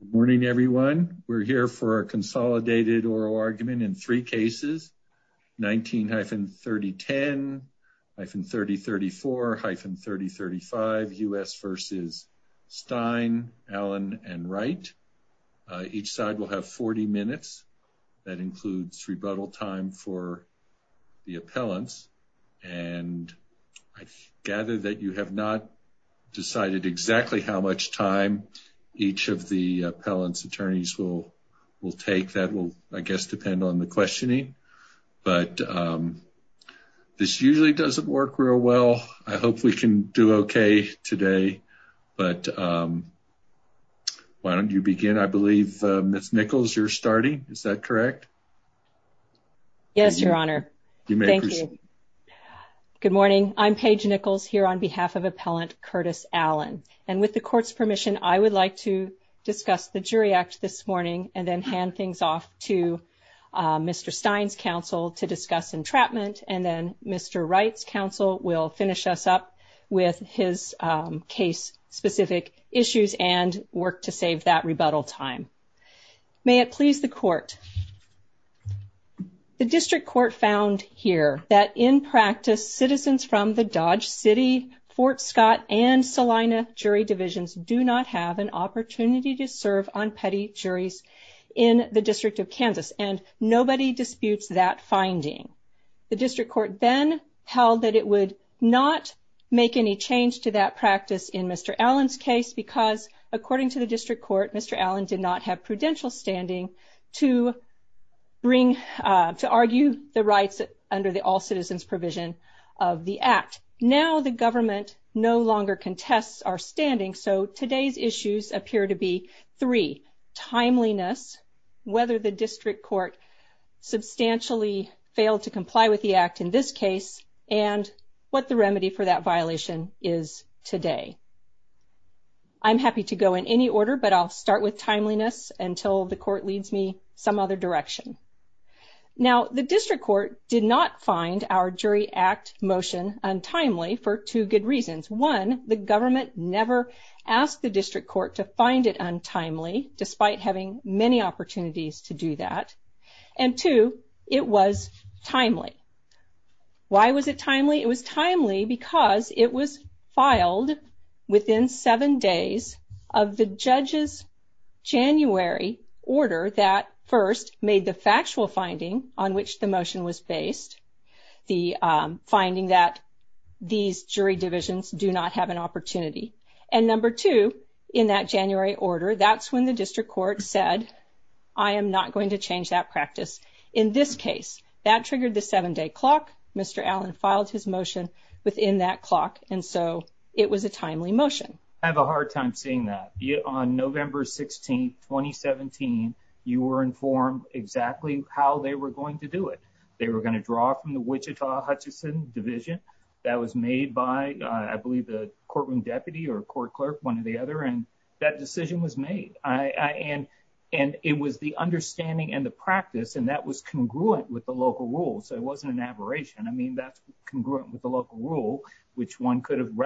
Good morning, everyone. We're here for a consolidated oral argument in three cases, 19-3010, 3034-3035, U.S. v. Stein, Allen, and Wright. Each side will have 40 minutes. That includes rebuttal time for the appellants. And I gather that you have not decided exactly how much time each of the appellant's attorneys will take. That will, I guess, depend on the questioning. But this usually doesn't work real well. I hope we can do okay today. But why don't you begin? I believe, Ms. Nichols, you're starting. Is that correct? Yes, Your Honor. Thank you. Good morning. I'm Paige Nichols here on behalf of Appellant Curtis Allen. And with the Court's permission, I would like to discuss the jury acts this morning and then hand things off to Mr. Stein's counsel to discuss entrapment. And then Mr. Wright's counsel will finish us up with his case-specific issues and work to save that rebuttal time. May it please the Court. The District Court found here that in practice, citizens from the Dodge City, Fort Scott, and Salina jury divisions do not have an opportunity to serve on petty juries in the District of Kansas. And nobody disputes that finding. The District Court then held that it would not make any change to that practice in Mr. Allen's case because, according to the District Court, Mr. Allen did not have prudential standing to bring, to argue the rights under the All-Citizens Provision of the Act. Now the government no longer contests our standing, so today's issues appear to be three, timeliness, whether the District Court substantially failed to comply with the Act in this case, and what the remedy for that violation is today. I'm happy to go in any order, but I'll start with timeliness until the Court leads me some other direction. Now the District Court did not find our Jury Act motion untimely for two good reasons. One, the government never asked the District Court to find it untimely, despite having many opportunities to do that. And two, it was timely. Why was it timely? It was timely because it was filed within seven days of the judge's January order that first made the factual finding on which the motion was based, the finding that these jury divisions do not have an opportunity. And number two, in that January order, that's when the District Court said, I am not going to change that practice in this case. That triggered the seven-day clock. Mr. Allen filed his motion within that clock, and so it was a timely motion. I have a hard time seeing that. On November 16, 2017, you were informed exactly how they were going to do it. They were going to draw from the Wichita Hutchinson Division. That was made by, I believe, the courtroom deputy or court clerk, one or the other, and that decision was made. And it was the understanding and the practice, and that was congruent with the local rule. So it wasn't an aberration. I mean, that's congruent with the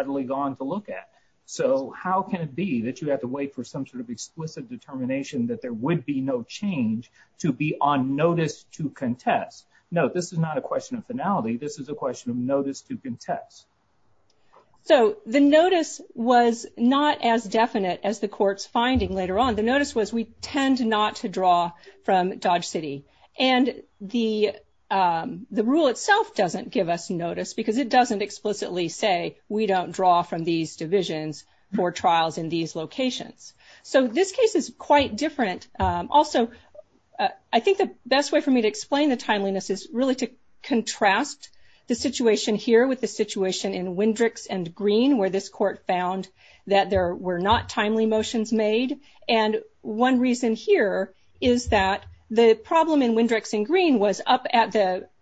to look at. So how can it be that you have to wait for some sort of explicit determination that there would be no change to be on notice to contest? No, this is not a question of finality. This is a question of notice to contest. So the notice was not as definite as the court's finding later on. The notice was we tend not to draw from Dodge City. And the rule itself doesn't give us notice because it doesn't explicitly say we don't draw from these divisions for trials in these locations. So this case is quite different. Also, I think the best way for me to explain the timeliness is really to contrast the situation here with the situation in Wendricks and Green, where this court found that there were not timely motions made. And one reason here is that the problem in Wendricks and Green was up at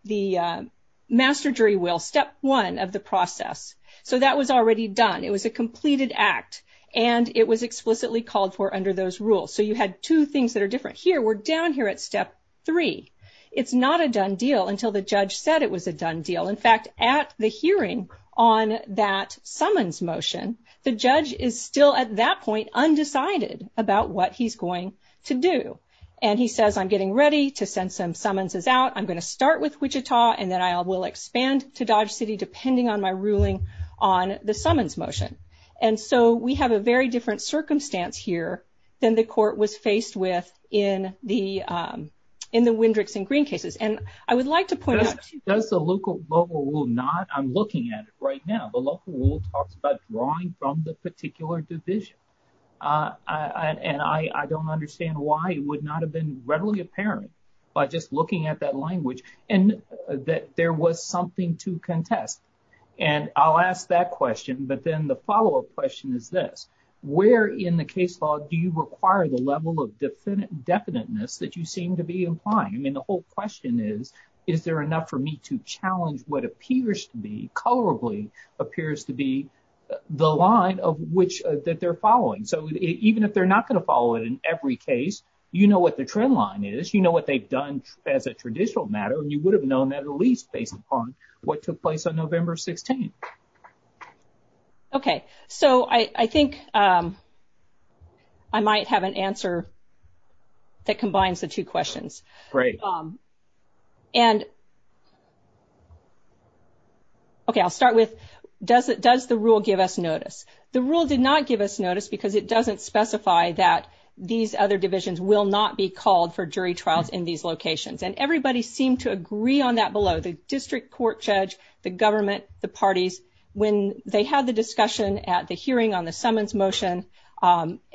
the master jury will, step one of the process. So that was already done. It was a completed act, and it was explicitly called for under those rules. So you had two things that are different here. We're down here at step three. It's not a done deal until the judge said it was a done deal. In fact, at the hearing on that summons motion, the judge is still at that undecided about what he's going to do. And he says, I'm getting ready to send some summonses out. I'm going to start with Wichita, and then I will expand to Dodge City depending on my ruling on the summons motion. And so we have a very different circumstance here than the court was faced with in the Wendricks and Green cases. And I would like to point out- I'm looking at it right now. The local rule talks about drawing from the particular decision. And I don't understand why it would not have been readily apparent by just looking at that language and that there was something to contest. And I'll ask that question, but then the follow-up question is this. Where in the case law do you require the level of definiteness that you seem to be implying? I mean, the whole question is, is there enough for me to challenge what appears to be colorably appears to be the line of which- that they're following? So even if they're not going to follow it in every case, you know what the trend line is. You know what they've done as a traditional matter, and you would have known that at least based upon what took place on November 16th. Okay. So I think I might have an answer that combines the two questions. Right. And okay, I'll start with, does the rule give us notice? The rule did not give us notice because it doesn't specify that these other divisions will not be called for jury trials in these locations. And everybody seemed to agree on that below. The district court judge, the government, the parties, when they had the discussion at the hearing on the summons motion,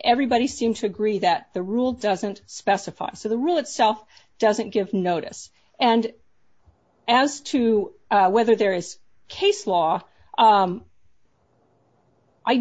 everybody seemed to agree that the rule doesn't specify. So the rule itself doesn't give notice. And as to whether there is case law, I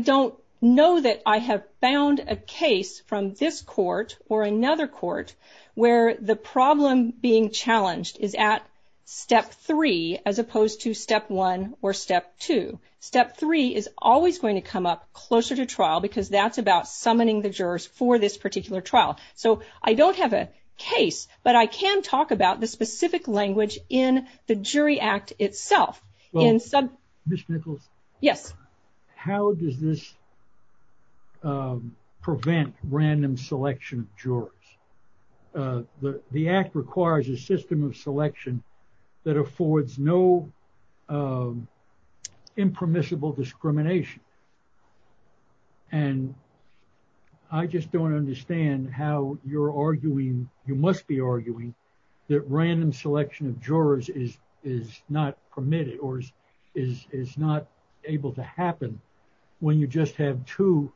don't know that I have found a case from this court or another court where the problem being challenged is at step three as opposed to step one or step two. Step three is always going to come up closer to trial because that's about summoning the jurors for this particular trial. So I don't have a case, but I can talk about the specific language in the jury act itself. Ms. Nichols? Yes. How does this prevent random selection of jurors? The act requires a system of selection that affords no impermissible discrimination. And I just don't understand how you're arguing, you must be arguing that random selection of jurors is not permitted or is not able to happen when you just have two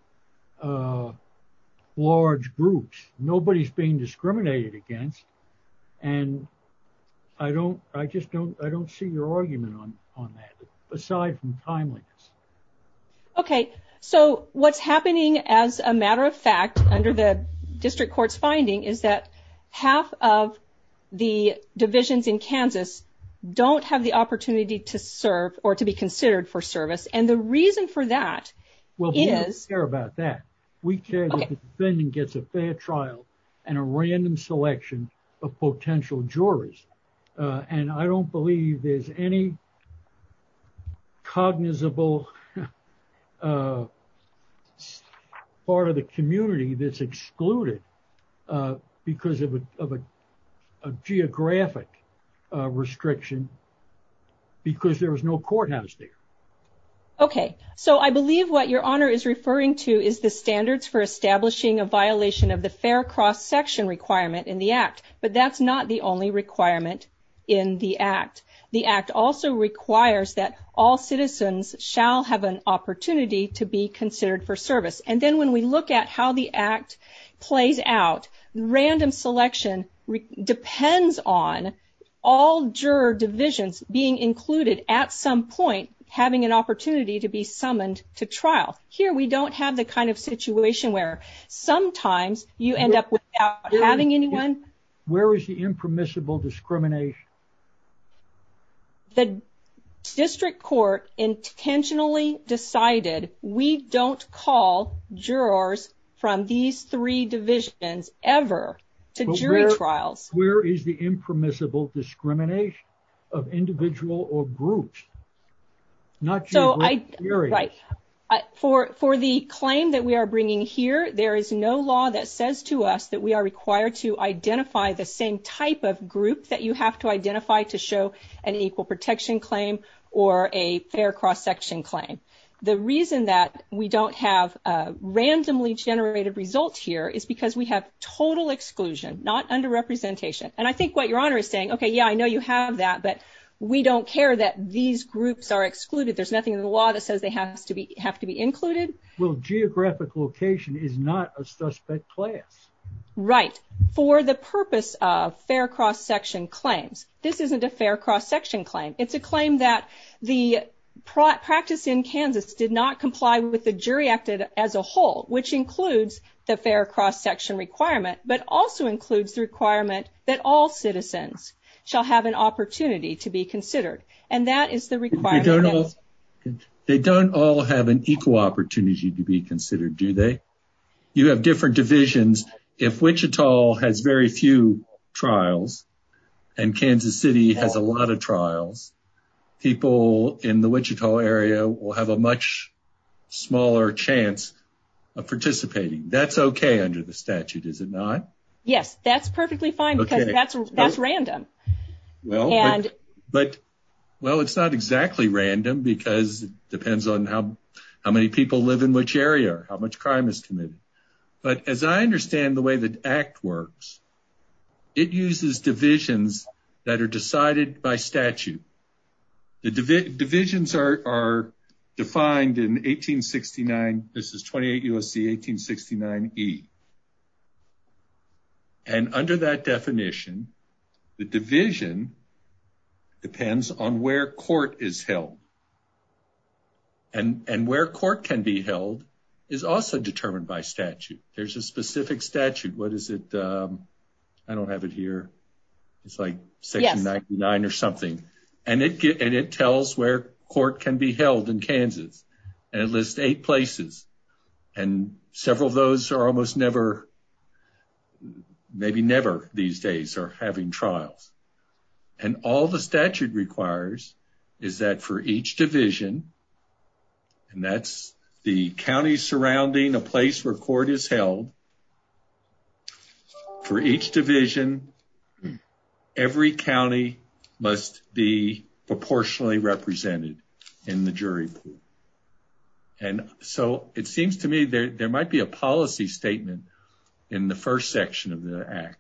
large groups. Nobody's being discriminated against. And I don't see your argument on that. Aside from timeliness. Okay. So what's happening as a matter of fact under the district court's finding is that half of the divisions in Kansas don't have the opportunity to serve or to be considered for service. And the reason for that is- Well, we don't care about that. We care that the defendant gets a fair trial and a random selection of potential juries. And I don't believe there's any cognizable part of the community that's excluded because of a geographic restriction because there was no courthouse there. Okay. So I believe what your honor is referring to is the standards for establishing a violation of the fair cross section requirement in the act, but that's not the only requirement in the act. The act also requires that all citizens shall have an opportunity to be considered for service. And then when we look at how the act plays out, random selection depends on all juror divisions being included at some point, having an opportunity to be summoned to trial. Here we don't have the kind of situation where sometimes you end up without having anyone- Where is the impermissible discrimination? The district court intentionally decided we don't call jurors from these three divisions ever to jury trials. Where is the impermissible discrimination of individual or groups? Not jurors. Jurors. Right. For the claim that we are bringing here, there is no law that says to us that we are required to identify the same type of groups that you have to identify to show an equal protection claim or a fair cross section claim. The reason that we don't have randomly generated results here is because we have total exclusion, not underrepresentation. And I think what your honor is saying, okay, yeah, I know you have that, but we don't care that these groups are excluded. There's nothing in the law that says they have to be included. Well, geographic location is not a suspect class. Right. For the purpose of fair cross section claims, this isn't a fair cross section claim. It's a claim that the practice in Kansas did not comply with the jury act as a whole, which includes the fair cross section requirement, but also includes the requirement that all citizens shall have an opportunity to be considered. They don't all have an equal opportunity to be considered, do they? You have different divisions. If Wichita has very few trials and Kansas City has a lot of trials, people in the Wichita area will have a much smaller chance of participating. That's okay under the statute, is it not? Yes, that's perfectly fine because that's random. Well, it's not exactly random because it depends on how many people live in which area, how much crime is committed. But as I understand the way the act works, it uses divisions that are decided by statute. The divisions are defined in 1869, this is 28 U.S.C. 1869E. And under that definition, the division depends on where court is held. And where court can be held is also determined by statute. There's a specific statute. What is it? I don't have it here. It's like section 99 or something. And it tells where court can be held in Kansas. And it lists eight places. And several of those are almost never, maybe never these days are having trials. And all the statute requires is that for each division, and that's the county surrounding a place where court is held, for each division, every county must be proportionally represented in the jury pool. And so it seems to me there might be a policy statement in the first section of the act.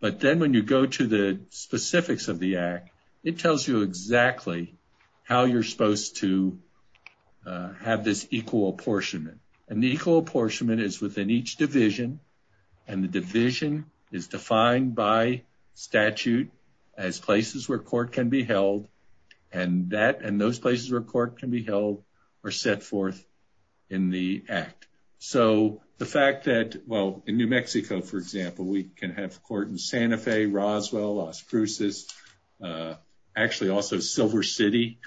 But then when you go to the specifics of the act, it tells you exactly how you're supposed to have this equal apportionment. And the equal apportionment is within each division. And the division is defined by statute as places where court can be held. And that, and those places where court can be held are set forth in the act. So the fact that, well, in New Mexico, for example, we can have court in Santa Fe, Roswell, Las Cruces, uh, actually also Silver City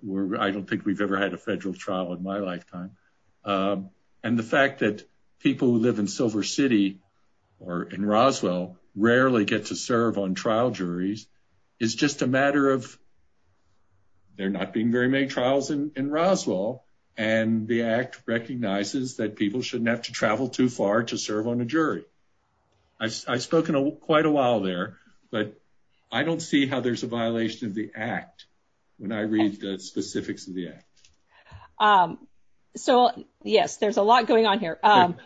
where I don't think we've ever had a federal trial in my lifetime. And the fact that people who live in Silver City or in Roswell rarely get to serve on trial juries. It's just a matter of, they're not being very many trials in Roswell. And the act recognizes that people shouldn't have to travel too far to serve on a jury. I spoke in quite a while there, but I don't see how there's a violation of the act when I read the specifics of the act. Um, so yes, there's a lot going on here, um,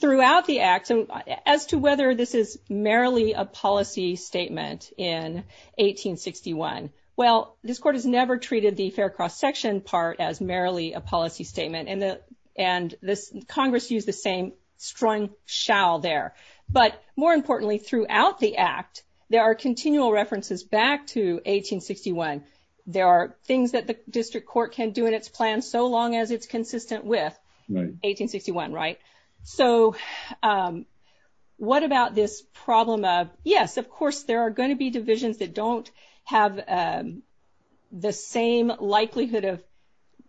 throughout the act. And as to whether this is merely a policy statement in 1861, well, this court has never treated the fair cross section part as merely a policy statement. And the, and this Congress used the same strong shall there, but more importantly, throughout the act, there are continual references back to 1861. There are things that the district court can do in its plan so long as it's consistent with 1861, right? So, um, what about this problem of, yes, of course, there are going to be divisions that don't have, um, the same likelihood of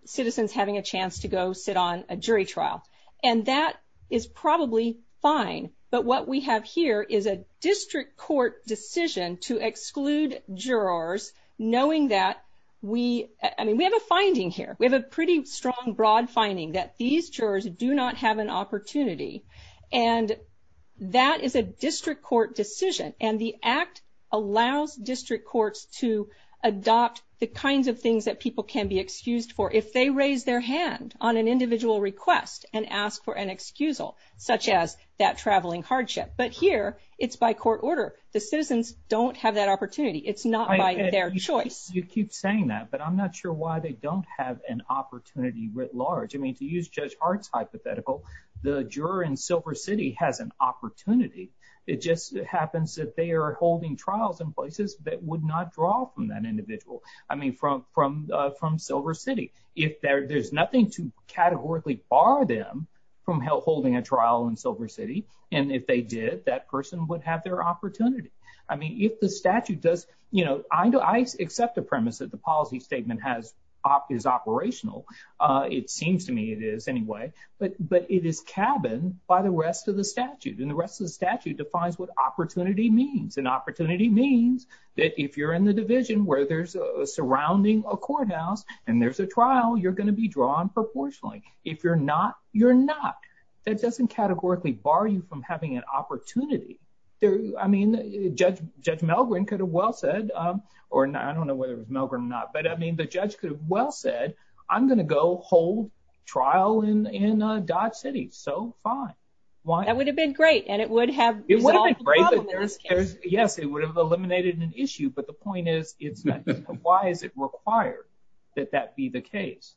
citizens having a chance to go sit on a jury trial. And that is probably fine. But what we have here is a district court decision to exclude jurors, knowing that we, I mean, we have a finding here. We have a pretty strong, broad finding that these jurors do not have an opportunity. And that is a district court decision. And the act allows district courts to adopt the kinds of things that people can be excused for if they raise their hand on an individual request and ask for an excusal such as that traveling hardship. But here it's by court order. The citizens don't have that opportunity. It's not by their choice. You keep saying that, but I'm not sure why they don't have an opportunity writ large. I mean, to use Judge Hart's hypothetical, the juror in Silver City has an opportunity. It just happens that they are holding trials in places that would not draw from that individual. I mean, from Silver City. If there's nothing to categorically bar them from holding a trial in Silver City, and if they did, that person would have their opportunity. I mean, if the statute does, you know, I accept the premise that the policy statement is operational. It seems to me it is anyway. But it is cabined by the rest of the statute. And the rest of the statute defines what opportunity means. And opportunity means that if you're in the division where there's a surrounding a courthouse and there's a trial, you're going to be drawn proportionally. If you're not, you're not. It doesn't categorically bar you from having an opportunity. I mean, Judge Melgrin could have well said, or I don't know whether it was Melgrin or not, but I mean, the judge could have well said, I'm going to go hold trial in Dodge City. So fine. That would have been great. And it would have... Yes, it would have eliminated an issue. But the point is, why is it required that that be the case?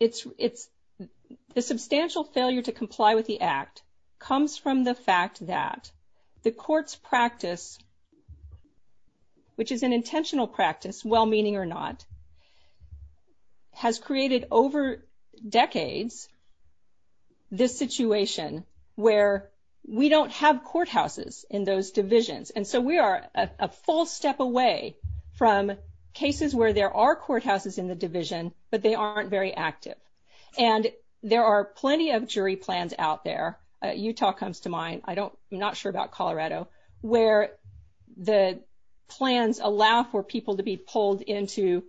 The substantial failure to comply with the act comes from the fact that the court's practice, which is an intentional practice, well meaning or not, has created over decades this situation where we don't have courthouses in those divisions. And so we are a full step away from cases where there are courthouses in the division, but they aren't very active. And there are plenty of jury plans out there. Utah comes to mind. I don't, I'm not sure about Colorado, where the plans allow for people to be pulled into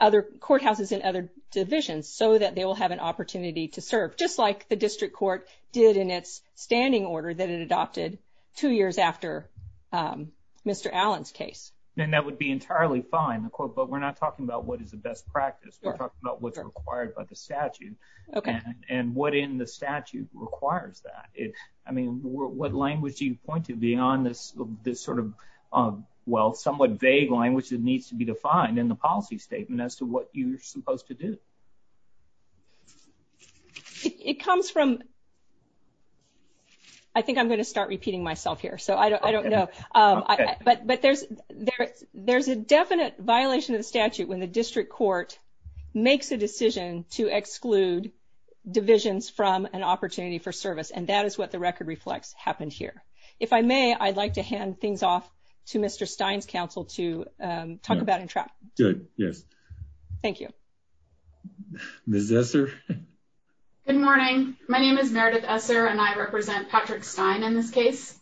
other courthouses in other divisions so that they will have an opportunity to serve, just like the district court did in its standing order that it adopted two years after Mr. Allen's case. And that would be entirely fine. Of course, but we're not talking about what is the best practice. We're talking about what's required by the statute and what in the statute requires that. I mean, what language do you point to beyond this sort of, well, somewhat vague language that needs to be defined in the policy statement as to what you're supposed to do? It comes from, I think I'm going to start repeating myself here. So I don't know. But there's a definite violation of the statute when the district court makes a decision to exclude divisions from an opportunity for service. And that is what the record reflects happened here. If I may, I'd like to hand things off to Mr. Stein's counsel to talk about entrapment. Good. Yes. Thank you. Ms. Esser? Good morning. My name is Meredith Esser and I represent Patrick Stein in this case.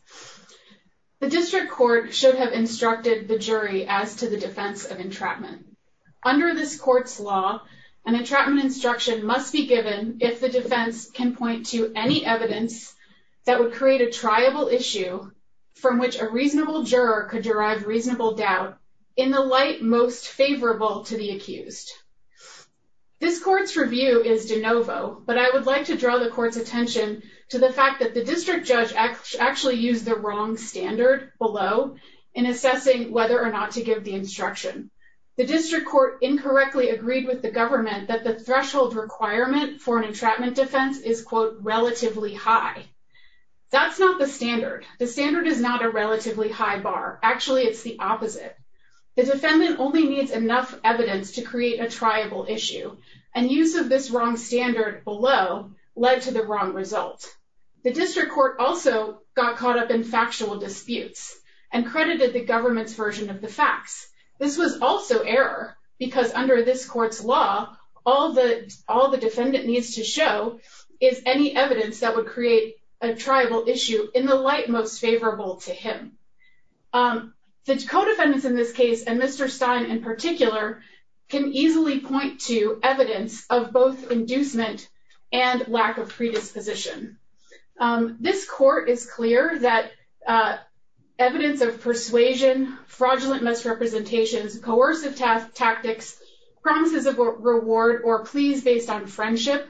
The district court should have instructed the jury as to the defense of entrapment. Under this court's law, an entrapment instruction must be given if the defense can point to any evidence that would create a triable issue from which a reasonable juror could derive reasonable doubt in the light most favorable to the accused. This court's review is de novo, but I would like to draw the court's attention to the fact that the district judge actually used the wrong standard below in assessing whether or not to give the instruction. The district court incorrectly agreed with the government that the threshold requirement for an entrapment defense is, quote, relatively high. That's not the standard. The standard is not a relatively high bar. Actually, it's the opposite. The defendant only needs enough evidence to create a triable issue. And use of this wrong standard below led to the wrong result. The district court also got caught up in factual disputes and credited the government's version of the facts. This was also error because under this court's law, all the defendant needs to show is any evidence that would create a triable issue in the light most favorable to him. The co-defendants in this case, and Mr. Stein in particular, can easily point to evidence of both inducement and lack of predisposition. This court is clear that evidence of persuasion, fraudulent misrepresentation, coercive tactics, promises of reward, or pleas based on friendship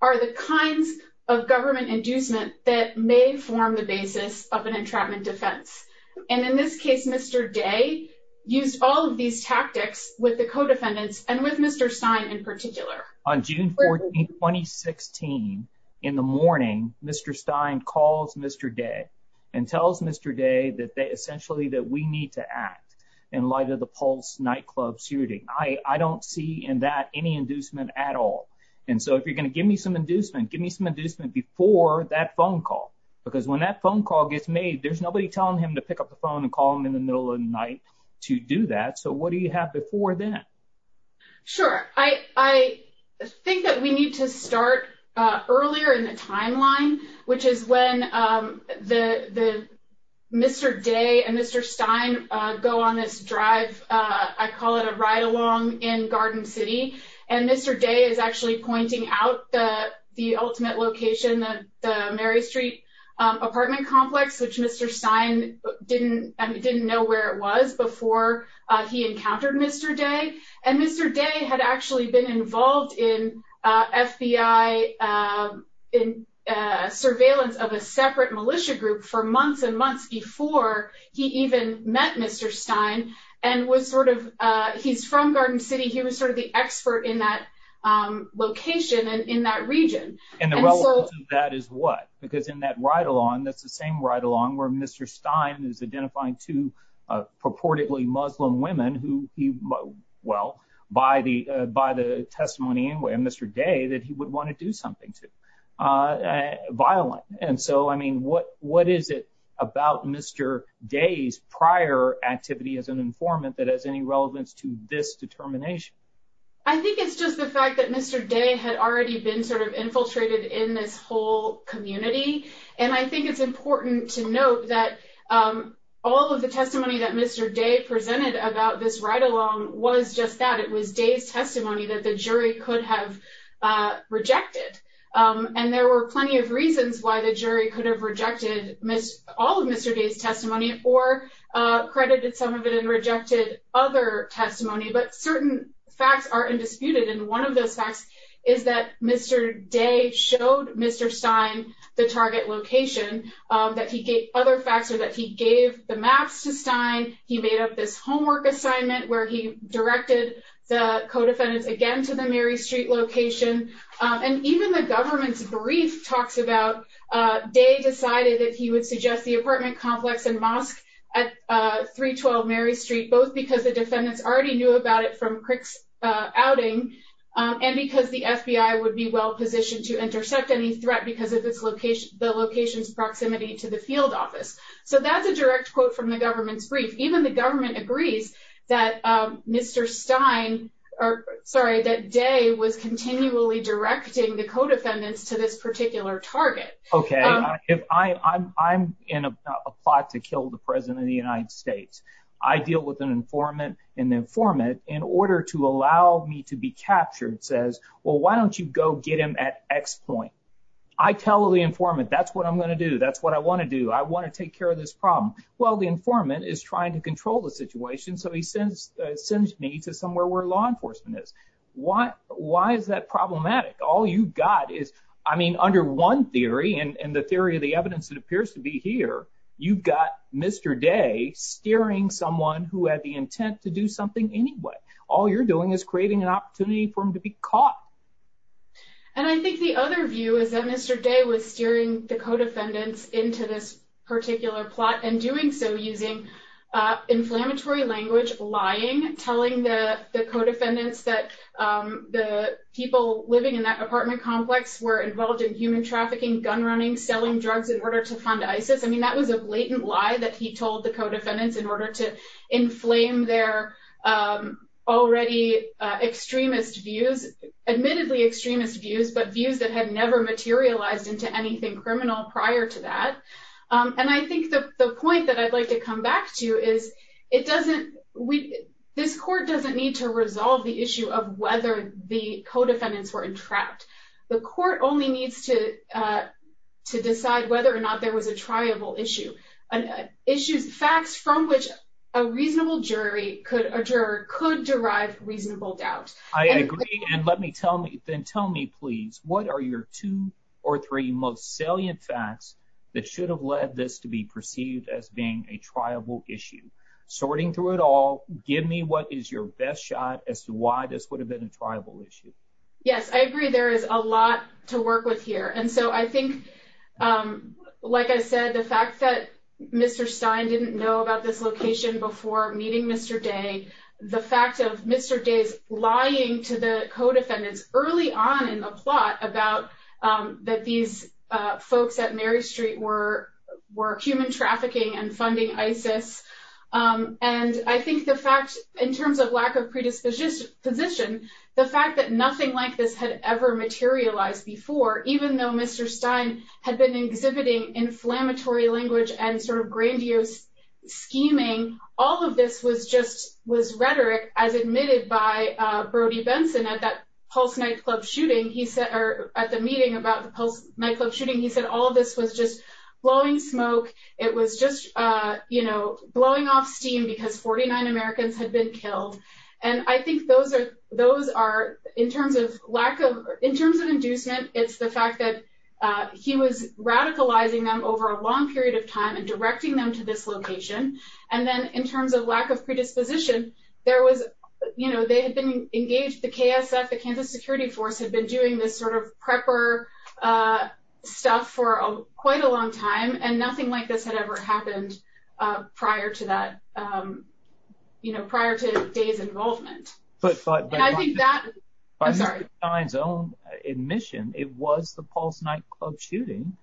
are the kinds of government inducement that may form the basis of an entrapment defense. And in this case, Mr. Day used all of these tactics with the co-defendants and with Mr. Stein in particular. On June 14, 2016, in the morning, Mr. Stein calls Mr. Day and tells Mr. Day that they essentially that we need to act in light of the Pulse nightclub shooting. I don't see in that any inducement at all. And so if you're going to give me some inducement, give me some inducement before that phone call. Because when that phone call gets made, there's nobody telling him to pick up the phone and call him in the minute. Sure. I think that we need to start earlier in the timeline, which is when Mr. Day and Mr. Stein go on this drive. I call it a ride along in Garden City. And Mr. Day is actually pointing out the ultimate location, the Mary Street apartment complex, which Mr. Stein didn't know where it was before he encountered Mr. Day. And Mr. Day had actually been involved in FBI surveillance of a separate militia group for months and months before he even met Mr. Stein and was sort of, he's from Garden City. He was sort of the expert in that location and in that region. And the relevance of that is what? Because in that ride along, that's the same ride along where Mr. Stein is identifying two purportedly Muslim women who, well, by the testimony in Mr. Day that he would want to do something to, violent. And so, I mean, what is it about Mr. Day's prior activity as an informant that has any relevance to this determination? I think it's just the fact that Mr. Day had already been sort of infiltrated in this whole community. And I think it's important to note that all of the testimony that Mr. Day presented about this ride along was just that. It was Day's testimony that the jury could have rejected. And there were plenty of reasons why the jury could have rejected all of Mr. Day's testimony or credited some of it and rejected other testimony. But certain facts are undisputed. And one of the facts is that Mr. Day showed Mr. Stein the target location that he gave other facts or that he gave the maps to Stein. He made up this homework assignment where he directed the co-defendants again to the Mary Street location. And even the government's brief talks about Day decided that he would suggest the apartment complex and mosque at 312 Mary Street, both because the defendants already knew about it from Crick's outing and because the FBI would be well positioned to intercept any threat because of the location's proximity to the field office. So that's a direct quote from the government's brief. Even the government agreed that Mr. Stein, or sorry, that Day was continually directing the co-defendants to this particular target. Okay. I'm in a fight to kill the President of the United States. I deal with an informant in order to allow me to be captured, says, well, why don't you go get him at X point? I tell the informant, that's what I'm going to do. That's what I want to do. I want to take care of this problem. Well, the informant is trying to control the situation. So he sends me to somewhere where law enforcement is. Why is that problematic? All you've got is, I mean, under one theory and the theory of the evidence that appears to be here, you've got Mr. Day steering someone who had the intent to do something anyway. All you're doing is creating an opportunity for him to be caught. And I think the other view is that Mr. Day was steering the co-defendants into this particular plot and doing so using inflammatory language, lying, telling the co-defendants that the people living in that apartment complex were involved in human trafficking, gun running, selling drugs in order to fund ISIS. I mean, that was a latent lie that he told the co-defendants in order to inflame their already extremist views, admittedly extremist views, but views that had never materialized into anything criminal prior to that. And I think that the point that I'd like to come back to is, this court doesn't need to resolve the issue of whether the co-defendants were entrapped. The court only needs to decide whether or not there was a triable issue. Issues, facts from which a reasonable jury could derive reasonable doubt. I agree. And let me tell me, Ben, tell me please, what are your two or three most salient facts that should have led this to be perceived as being a triable issue? Sorting through it all, give me what is your best shot as to why this would have been a triable issue. Yes, I agree there is a lot to work with here. And so I think, like I said, the fact that Mr. Stein didn't know about this location before meeting Mr. Day, the fact of Mr. Day lying to the co-defendants early on in the plot about that these folks at Mary Street were human trafficking and funding ISIS. And I think the fact, in terms of lack of predisposition, the fact that nothing like this had ever materialized before, even though Mr. Stein had been exhibiting inflammatory language and sort of grandiose scheming, all of this was just, was rhetoric as admitted by Brody Benson at that Pulse nightclub shooting, he said, or at the meeting about the Pulse nightclub shooting, he said, all of this was just blowing smoke. It was just, you know, blowing off steam because 49 Americans had been killed. And I think those are, in terms of lack of, in terms of inducement, it's the fact that he was radicalizing them over a long period of time and directing them to this location. And then in terms of lack of predisposition, there was, you know, they had been stuck for quite a long time and nothing like this had ever happened prior to that, you know, prior to Day's involvement. I think that, I'm sorry. By Mr. Stein's own admission, it was the Pulse nightclub shooting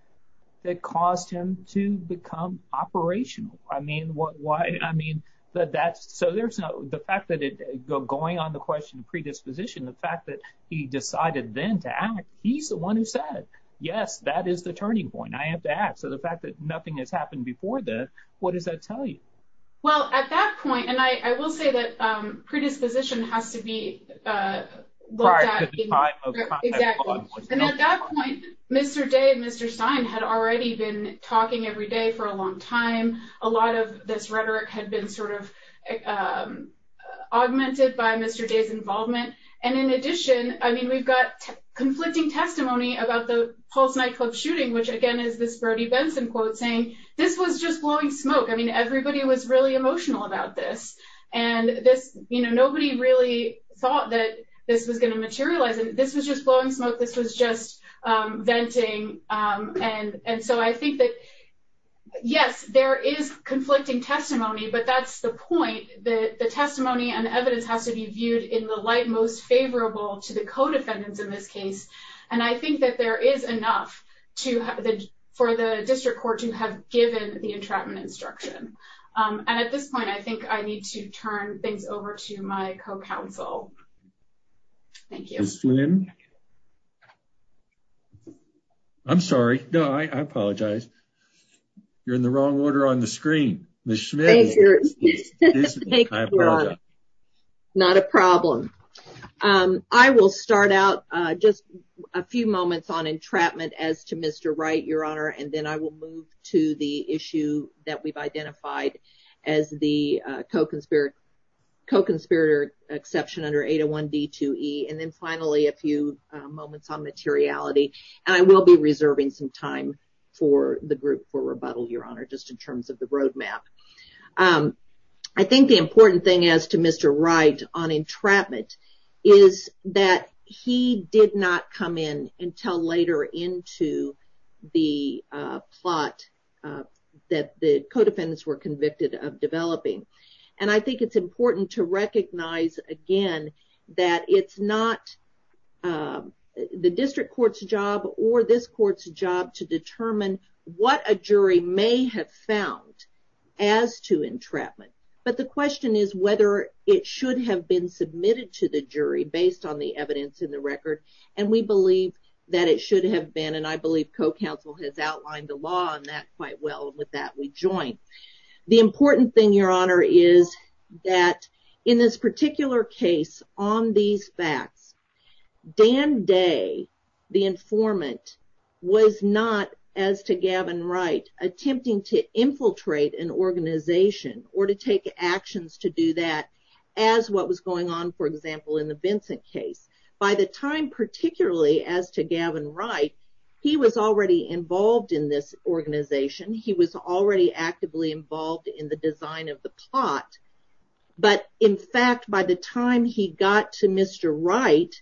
that caused him to become operational. I mean, what, why, I mean, that that's, so there's no, the fact that it, going on the question of predisposition, the fact that he decided then to act, he's the one who said, yes, that is the turning point. I have to ask, so the fact that nothing has happened before this, what does that tell you? Well, at that point, and I will say that predisposition has to be prior to the time of contact. And at that point, Mr. Day and Mr. Stein had already been talking every day for a long time. A lot of this rhetoric had been sort of augmented by Mr. Day's involvement. And in addition, I mean, we've got conflicting testimony about the Pulse nightclub shooting, which again is this Brody Benson quote saying, this was just blowing smoke. I mean, everybody was really emotional about this. And this, you know, nobody really thought that this was going to materialize. This was just blowing smoke. This was just venting. And so I think that, yes, there is conflicting testimony, but that's the point. The testimony and the evidence has to be viewed in the light most favorable to the defendants in this case. And I think that there is enough to have for the district court to have given the entrapment instruction. And at this point, I think I need to turn things over to my co-counsel. Thank you. I'm sorry. No, I apologize. You're in the wrong order on the screen. Thank you. Not a problem. I will start out just a few moments on entrapment as to Mr. Wright, Your Honor. And then I will move to the issue that we've identified as the co-conspirator exception under 801 D2E. And then finally, a few moments on materiality. And I will be I think the important thing as to Mr. Wright on entrapment is that he did not come in until later into the plot that the co-defendants were convicted of developing. And I think it's important to recognize, again, that it's not the district court's job or this court's job to as to entrapment. But the question is whether it should have been submitted to the jury based on the evidence in the record. And we believe that it should have been. And I believe co-counsel has outlined the law on that quite well. And with that, we join. The important thing, Your Honor, is that in this particular case on these facts, Dan Day, the informant, was not, as to Gavin Wright, attempting to infiltrate an organization or to take actions to do that as what was going on, for example, in the Vincent case. By the time, particularly as to Gavin Wright, he was already involved in this organization. He was already actively involved in the design of the plot. But in fact, by the time he got to Mr. Wright,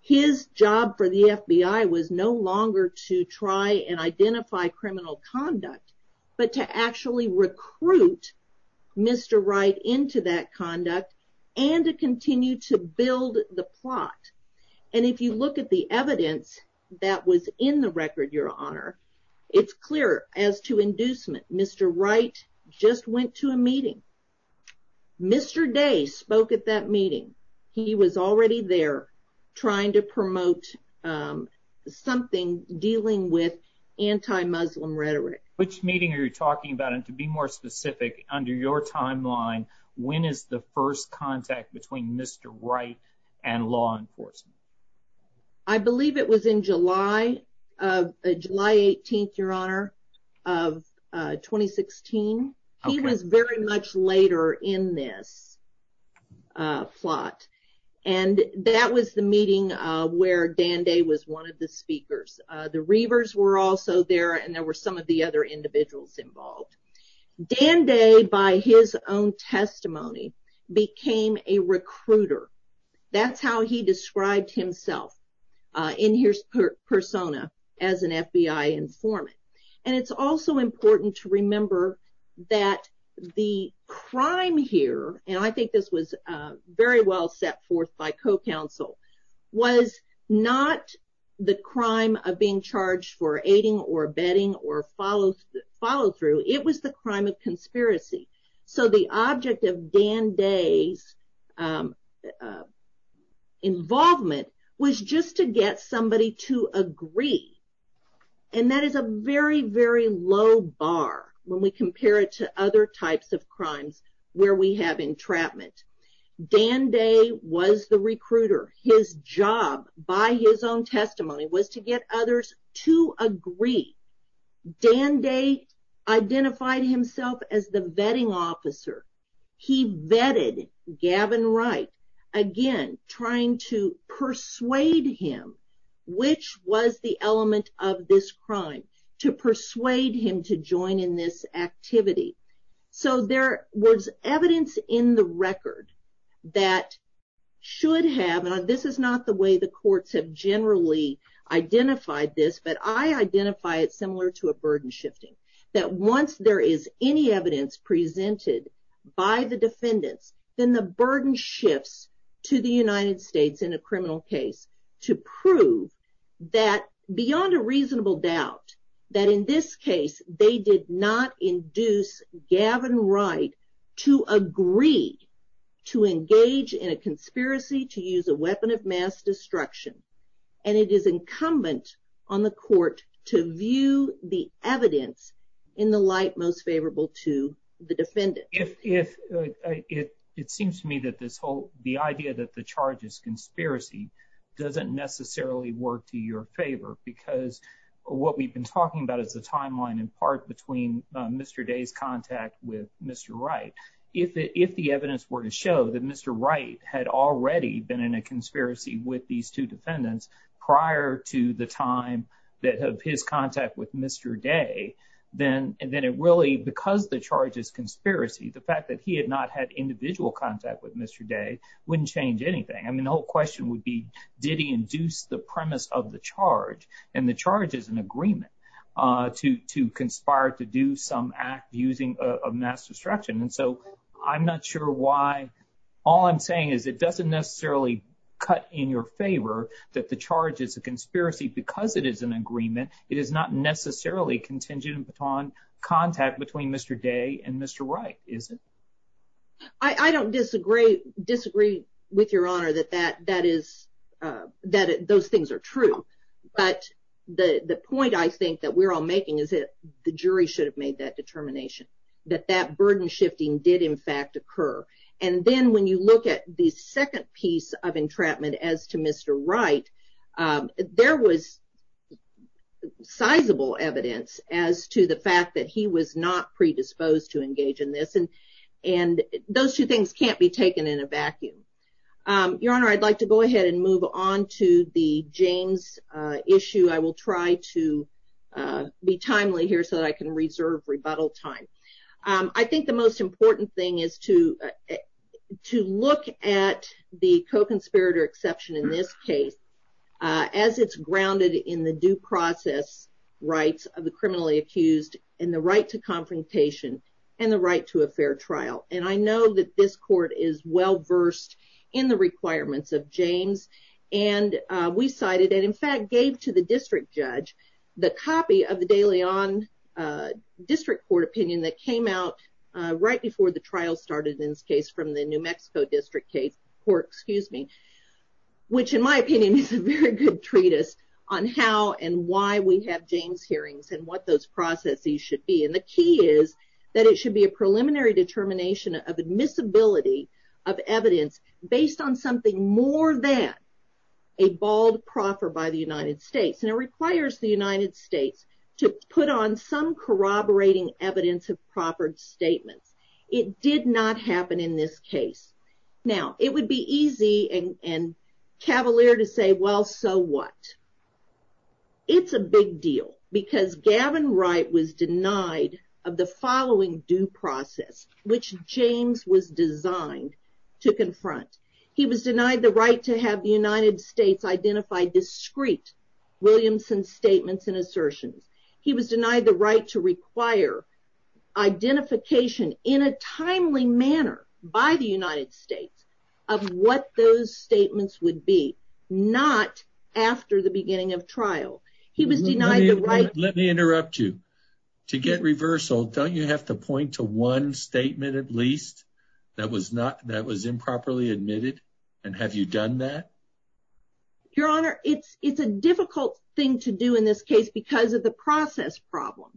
his job for the FBI was no longer to try and identify criminal conduct, but to actually recruit Mr. Wright into that conduct and to continue to build the plot. And if you look at the evidence that was in the record, Your Honor, it's clear as to inducement. Mr. Wright just went to a meeting. Mr. Day spoke at that meeting. He was already there trying to promote something dealing with anti-Muslim rhetoric. Which meeting are you talking about? And to be more specific, under your timeline, when is the first contact between Mr. Wright and law enforcement? I believe it was in July, July 18th, Your Honor, of 2016. He was very much later in this plot. And that was the meeting where Dan Day was one of the speakers. The Reavers were also there, and there were some of the other individuals involved. Dan Day, by his own testimony, became a recruiter. That's how he described himself in his persona as an FBI informant. And it's also important to remember that the crime here, and I think this was very well set forth by co-counsel, was not the crime of being charged for aiding or abetting or follow through. It was the crime of conspiracy. So the object of Dan Day's involvement was just to get somebody to agree. And that is a very, very low bar when we compare it to other types of crimes where we have entrapment. Dan Day was the recruiter. His job, by his own testimony, was to get others to agree. Dan Day identified himself as the vetting officer. He vetted Gavin Wright, again, trying to persuade him which was the element of this crime, to persuade him to join in this activity. So there was evidence in the record that should have, and this is not the way the similar to a burden shifting, that once there is any evidence presented by the defendant, then the burden shifts to the United States in a criminal case to prove that beyond a reasonable doubt, that in this case, they did not induce Gavin Wright to agree to engage in a conspiracy to use a weapon of mass destruction, and it is incumbent on the court to view the evidence in the light most favorable to the defendant. It seems to me that this whole, the idea that the charge is conspiracy doesn't necessarily work to your favor because what we've been talking about is the timeline in part between Mr. Day's contact with Mr. Wright. If the evidence were to show that Mr. Wright had already been in a conspiracy with these two defendants prior to the time of his contact with Mr. Day, then it really, because the charge is conspiracy, the fact that he had not had individual contact with Mr. Day wouldn't change anything. I mean, the whole question would be, did he induce the premise of the charge, and the charge is an all I'm saying is it doesn't necessarily cut in your favor that the charge is a conspiracy because it is an agreement. It is not necessarily contingent upon contact between Mr. Day and Mr. Wright, is it? I don't disagree with your honor that that is, that those things are true, but the point I think that we're all making is that the jury should have made that determination, that that burden shifting did in fact occur. And then when you look at the second piece of entrapment as to Mr. Wright, there was sizable evidence as to the fact that he was not predisposed to engage in this. And those two things can't be taken in a vacuum. Your honor, I'd like to go ahead and move on to the James issue. I will try to be timely here so that I reserve rebuttal time. I think the most important thing is to, to look at the co-conspirator exception in this case, as it's grounded in the due process rights of the criminally accused, and the right to confrontation, and the right to a fair trial. And I know that this court is well versed in the requirements of James. And we cited and in fact, gave to the district judge, the copy of the daily on district court opinion that came out right before the trial started in this case from the New Mexico district case, or excuse me, which in my opinion is a very good treatise on how and why we have James hearings and what those processes should be. And the key is that it should be a preliminary determination of admissibility of evidence based on something more than a bald proffer by the United States. And it requires the United States to put on some corroborating evidence of proffered statement. It did not happen in this case. Now, it would be easy and cavalier to say, well, so what? It's a big deal, because Gavin Wright was denied of the right to have the United States identified discrete Williamson statements and assertions. He was denied the right to require identification in a timely manner by the United States of what those statements would be, not after the beginning of trial. He was denied the right... Let me interrupt you. To get reversal, don't you have to point to one statement at least that was improperly admitted? And have you done that? Your Honor, it's a difficult thing to do in this case because of the process problem.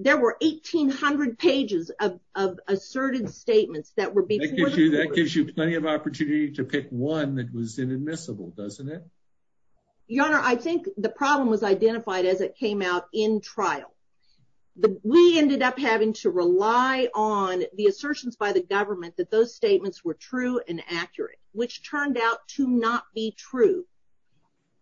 There were 1,800 pages of asserted statements that were... That gives you plenty of opportunity to pick one that was inadmissible, doesn't it? Your Honor, I think the problem was identified as it came out in trial. We ended up having to rely on the assertions by the government that those statements were true and accurate, which turned out to not be true.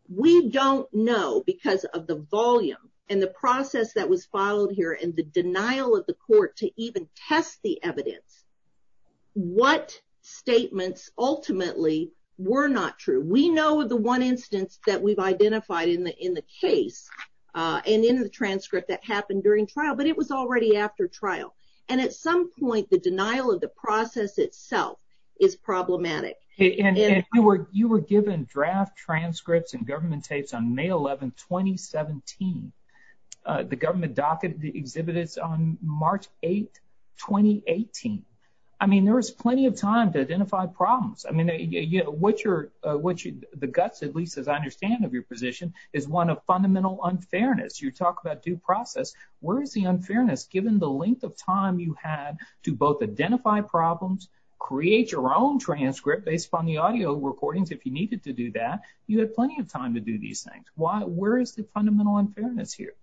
We don't know, because of the volume and the process that was followed here and the denial of the court to even test the evidence, what statements ultimately were not true. We know of the one instance that we've identified in the case and in the transcript that happened during trial, but it was already after trial. At some point, the denial of the process itself is problematic. You were given draft transcripts and government states on May 11th, 2017. The government docket exhibited on March 8th, 2018. There was plenty of time to identify problems. The guts, at least as I understand of your position, is one of fundamental unfairness. You talk about due process. Where is the unfairness, given the length of time you had to both identify problems, create your own transcript based upon the audio recordings if you needed to do that? You had plenty of time to do these things. Where is the fundamental unfairness here?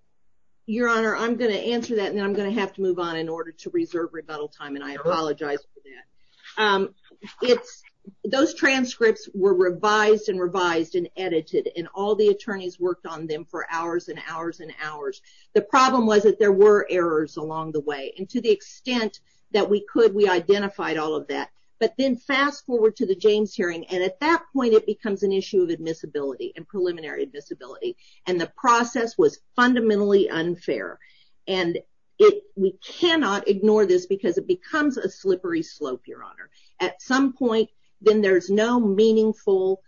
Your Honor, I'm going to answer that, and then I'm going to have to move on in order to reserve rebuttal time, and I apologize for that. If those transcripts were revised and revised and edited, and all the attorneys worked on them for hours and hours and hours, the problem was that there were errors along the way. To the extent that we could, we identified all of that. Then fast forward to the James hearing, and at that point, it becomes an issue of admissibility and preliminary admissibility. The process was at some point, then there's no meaningful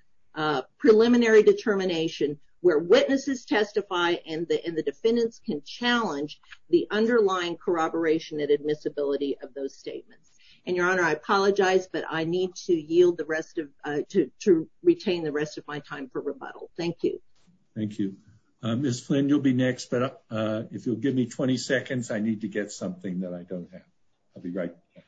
preliminary determination where witnesses testify and the defendants can challenge the underlying corroboration and admissibility of those statements. Your Honor, I apologize, but I need to retain the rest of my time for rebuttal. Thank you. Thank you. Ms. Flynn, you'll be next, but if you'll give me 20 seconds, I need to get something that I don't have. I'll be right back.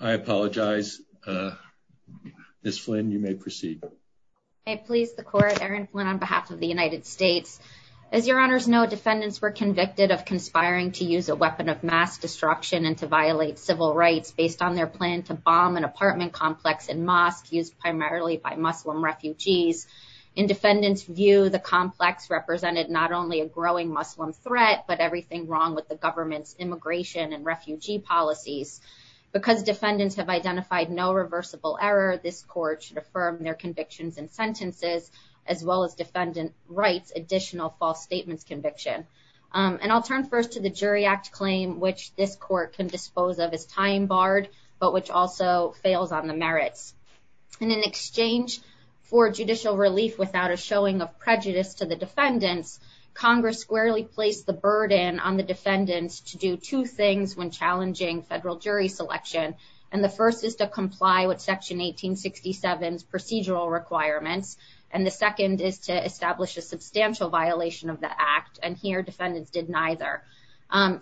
I apologize. Ms. Flynn, you may proceed. I please support Aaron Flynn on behalf of the As your honors know, defendants were convicted of conspiring to use a weapon of mass destruction and to violate civil rights based on their plan to bomb an apartment complex and mosque used primarily by Muslim refugees. In defendants' view, the complex represented not only a growing Muslim threat, but everything wrong with the government's immigration and refugee policies. Because defendants have identified no reversible error, this court should affirm their convictions and sentences, as well as defendants' rights, additional false statements conviction. And I'll turn first to the Jury Act claim, which this court can dispose of as time barred, but which also fails on the merits. And in exchange for judicial relief without a showing of prejudice to the defendants, Congress squarely placed the burden on the defendants to do two things when challenging federal jury selection. And the first is to comply with Section 1867's requirements. And the second is to establish a substantial violation of the act. And here, defendants did neither.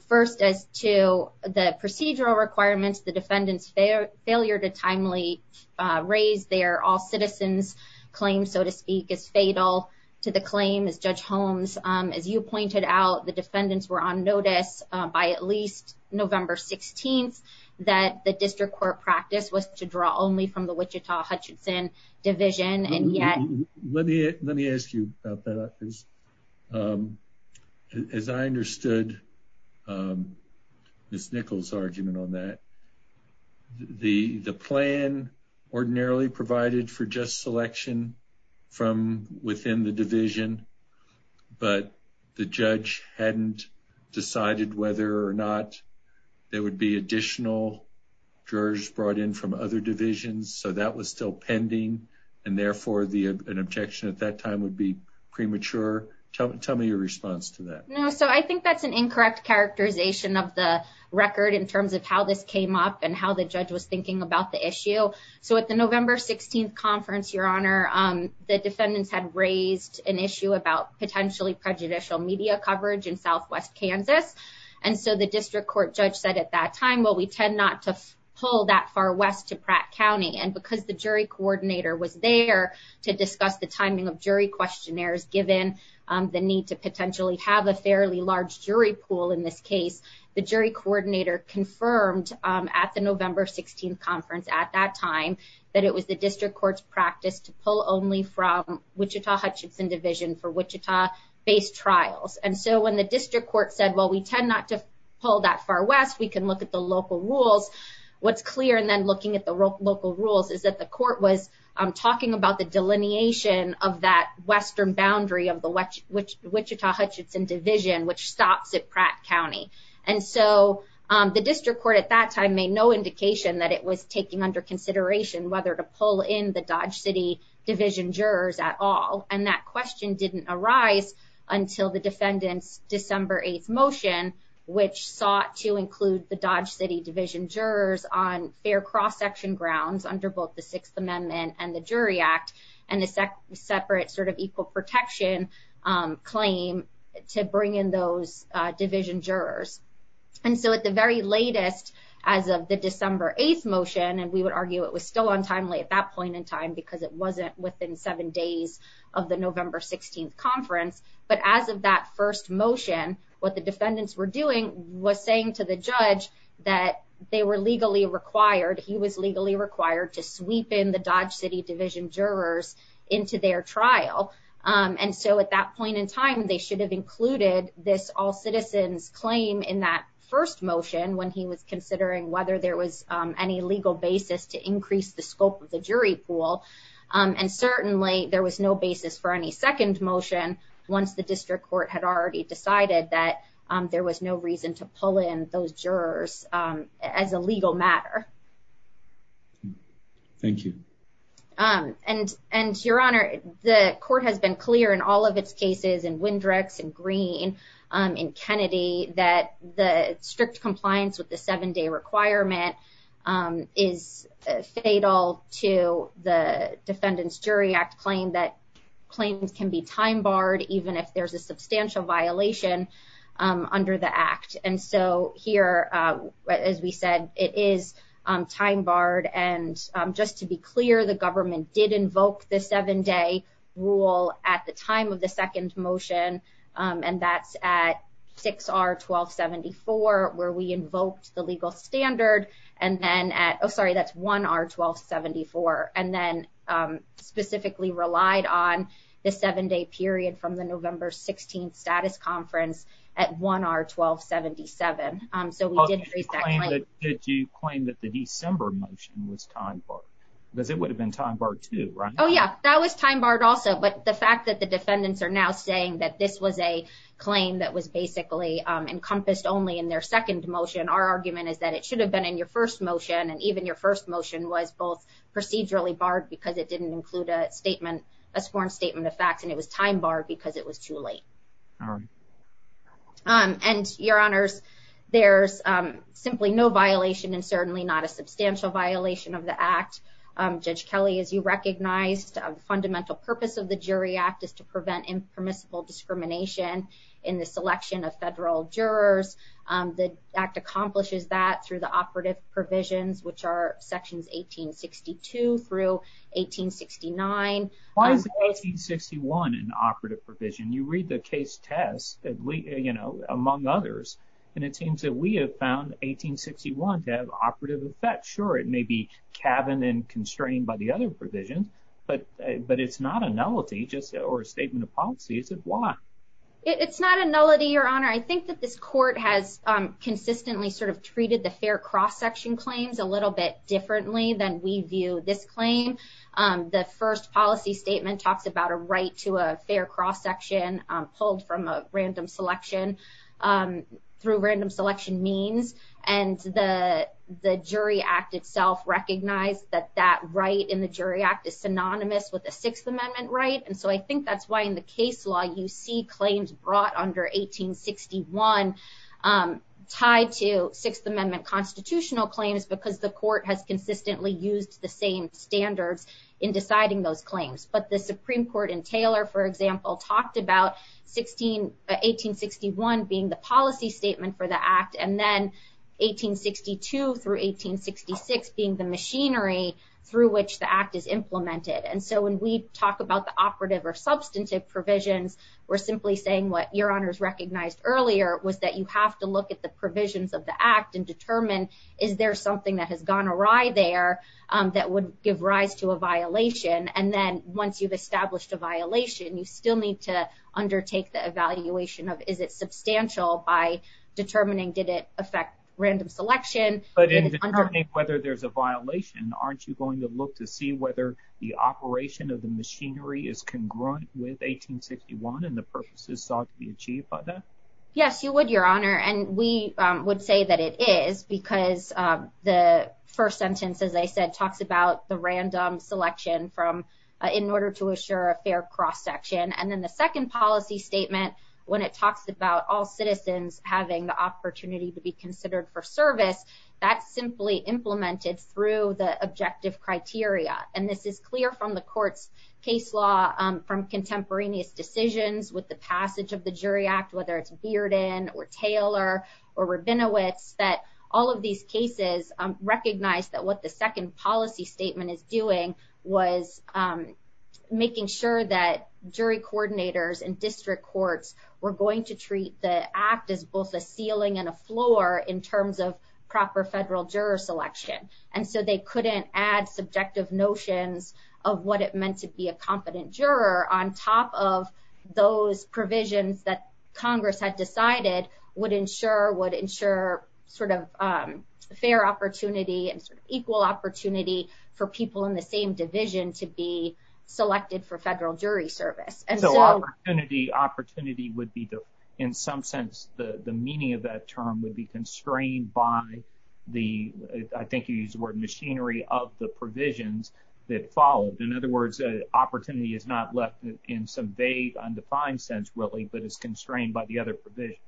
First, as to the procedural requirements, the defendants' failure to timely raise their all citizens claim, so to speak, is fatal to the claim. As Judge Holmes, as you pointed out, the defendants were on notice by at least November 16th that the division and yet... Let me ask you about that, please. As I understood Ms. Nichols' argument on that, the plan ordinarily provided for just selection from within the division, but the judge hadn't decided whether or not there would be additional jurors brought in from other divisions. So that was still pending. And therefore, the objection at that time would be premature. Tell me your response to that. No. So I think that's an incorrect characterization of the record in terms of how this came up and how the judge was thinking about the issue. So at the November 16th conference, Your Honor, the defendants had raised an issue about potentially prejudicial media coverage in pull that far west to Pratt County. And because the jury coordinator was there to discuss the timing of jury questionnaires, given the need to potentially have a fairly large jury pool in this case, the jury coordinator confirmed at the November 16th conference at that time that it was the district court's practice to pull only from Wichita-Hudson Division for Wichita-based trials. And so when the district court said, well, we tend not to pull that far west, what's clear and then looking at the local rules is that the court was talking about the delineation of that western boundary of the Wichita-Hudson Division, which stops at Pratt County. And so the district court at that time made no indication that it was taking under consideration whether to pull in the Dodge City Division jurors at all. And that question didn't arise until the defendant's December 8th motion, which sought to include the Dodge City Division jurors on their cross-section grounds under both the Sixth Amendment and the Jury Act, and the separate sort of equal protection claim to bring in those division jurors. And so at the very latest, as of the December 8th motion, and we would argue it was still at that point in time because it wasn't within seven days of the November 16th conference, but as of that first motion, what the defendants were doing was saying to the judge that they were legally required, he was legally required to sweep in the Dodge City Division jurors into their trial. And so at that point in time, they should have included this all citizens claim in that first when he was considering whether there was any legal basis to increase the scope of the jury pool. And certainly there was no basis for any second motion once the district court had already decided that there was no reason to pull in those jurors as a legal matter. Thank you. And, Your Honor, the court has been clear in all of its cases, in Windricks, in Green, in Kennedy, that the strict compliance with the seven-day requirement is fatal to the defendant's jury act claim, that claims can be time-barred even if there's a substantial violation under the act. And so here, as we said, it is time-barred. And just to be clear, the government did invoke the seven-day rule at the time of the second motion, and that's at 6R1274, where we invoked the legal standard, and then at, oh, sorry, that's 1R1274, and then specifically relied on the seven-day period from the November 16th status conference at 1R1277. Did you claim that the December motion was time-barred? Because it would have been time-barred too, right? Oh, yeah, that was time-barred also, but the fact that the defendants are now saying that this was a claim that was basically encompassed only in their second motion, our argument is that it should have been in your first motion, and even your first motion was both procedurally barred because it didn't include a statement, a sworn statement of fact, and it was time-barred because it was too late. And, Your Honors, there's simply no violation and certainly not a substantial violation of the act. Judge Kelly, as you recognize, the fundamental purpose of the Jury Act is to prevent impermissible discrimination in the selection of federal jurors. The Act accomplishes that through the operative provisions, which are sections 1862 through 1869. Why is 1861 an operative provision? You read the case test, you know, among others, and it seems that we have found 1861 to have operative effect. Sure, it may be caverned and constrained by the other provisions, but it's not a nullity or a statement of policy, is it? Why? It's not a nullity, Your Honor. I think that this court has consistently sort of treated the fair cross-section claims a little bit differently than we view this claim. The first policy statement talked about a right to a fair cross-section pulled from a random selection through random selection means, and the Jury Act itself recognized that that right in the Jury Act is synonymous with a Sixth Amendment right, and so I think that's why in the case law you see claims brought under 1861 tied to Sixth Amendment constitutional claims, because the court has consistently used the same standards in deciding those claims. But the Supreme Court in Taylor, for example, talked about 1861 being the policy statement for the Act, and then 1862 through 1866 being the machinery through which the Act is implemented, and so when we talk about the operative or substantive provisions, we're simply saying what Your Honor's recognized earlier was that you have to look at the provisions of the Act and determine is there something that has gone awry there that would give rise to a violation, and then once you've established a violation, you still need to undertake the evaluation of is it substantial by determining did it affect random selection. But in determining whether there's a violation, aren't you going to look to see whether the operation of the machinery is congruent with 1861 and the purposes sought to be achieved by that? Yes, you would, Your Honor, and we would say that it is because the first sentence, as I said, talks about the random selection in order to assure a fair cross-section, and then the second policy statement, when it talks about all citizens having the opportunity to be considered for service, that's simply implemented through the objective criteria, and this is clear from the court's case law from contemporaneous decisions with the passage of the Jury Act, whether it's Bearden or Taylor or Rabinowitz, that all of these cases recognize that what the second policy statement is doing was making sure that jury coordinators and district courts were going to treat the act as both a ceiling and a floor in terms of proper federal juror selection, and so they couldn't add subjective notions of what it meant to be a competent juror on top of those provisions that Congress had decided would ensure sort of fair opportunity and equal opportunity for people in the same division to be selected for federal jury service. And so opportunity would be, in some sense, the meaning of that term would be constrained by the, I think you used the word machinery, of the provisions that followed. In other words, opportunity is not left in some vague undefined sense, really, but it's constrained by the other provisions.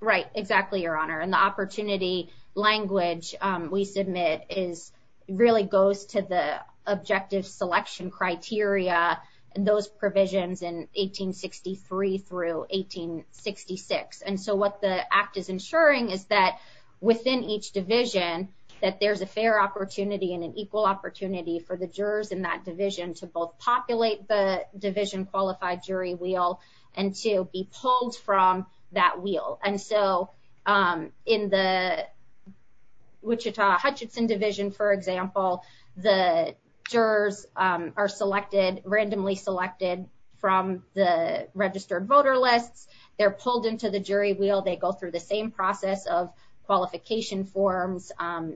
Right, exactly, Your Honor, and the opportunity language we submit really goes to the objective selection criteria and those provisions in 1863 through 1866, and so what the act is ensuring is that within each division that there's a fair opportunity and an equal opportunity for the jurors in that division to both populate the division qualified jury wheel and to be pulled from that wheel. And so in the Wichita Hutchinson division, for example, the jurors are selected, randomly selected, from the registered voter list. They're pulled into the jury wheel. They go through the same process of qualification forms,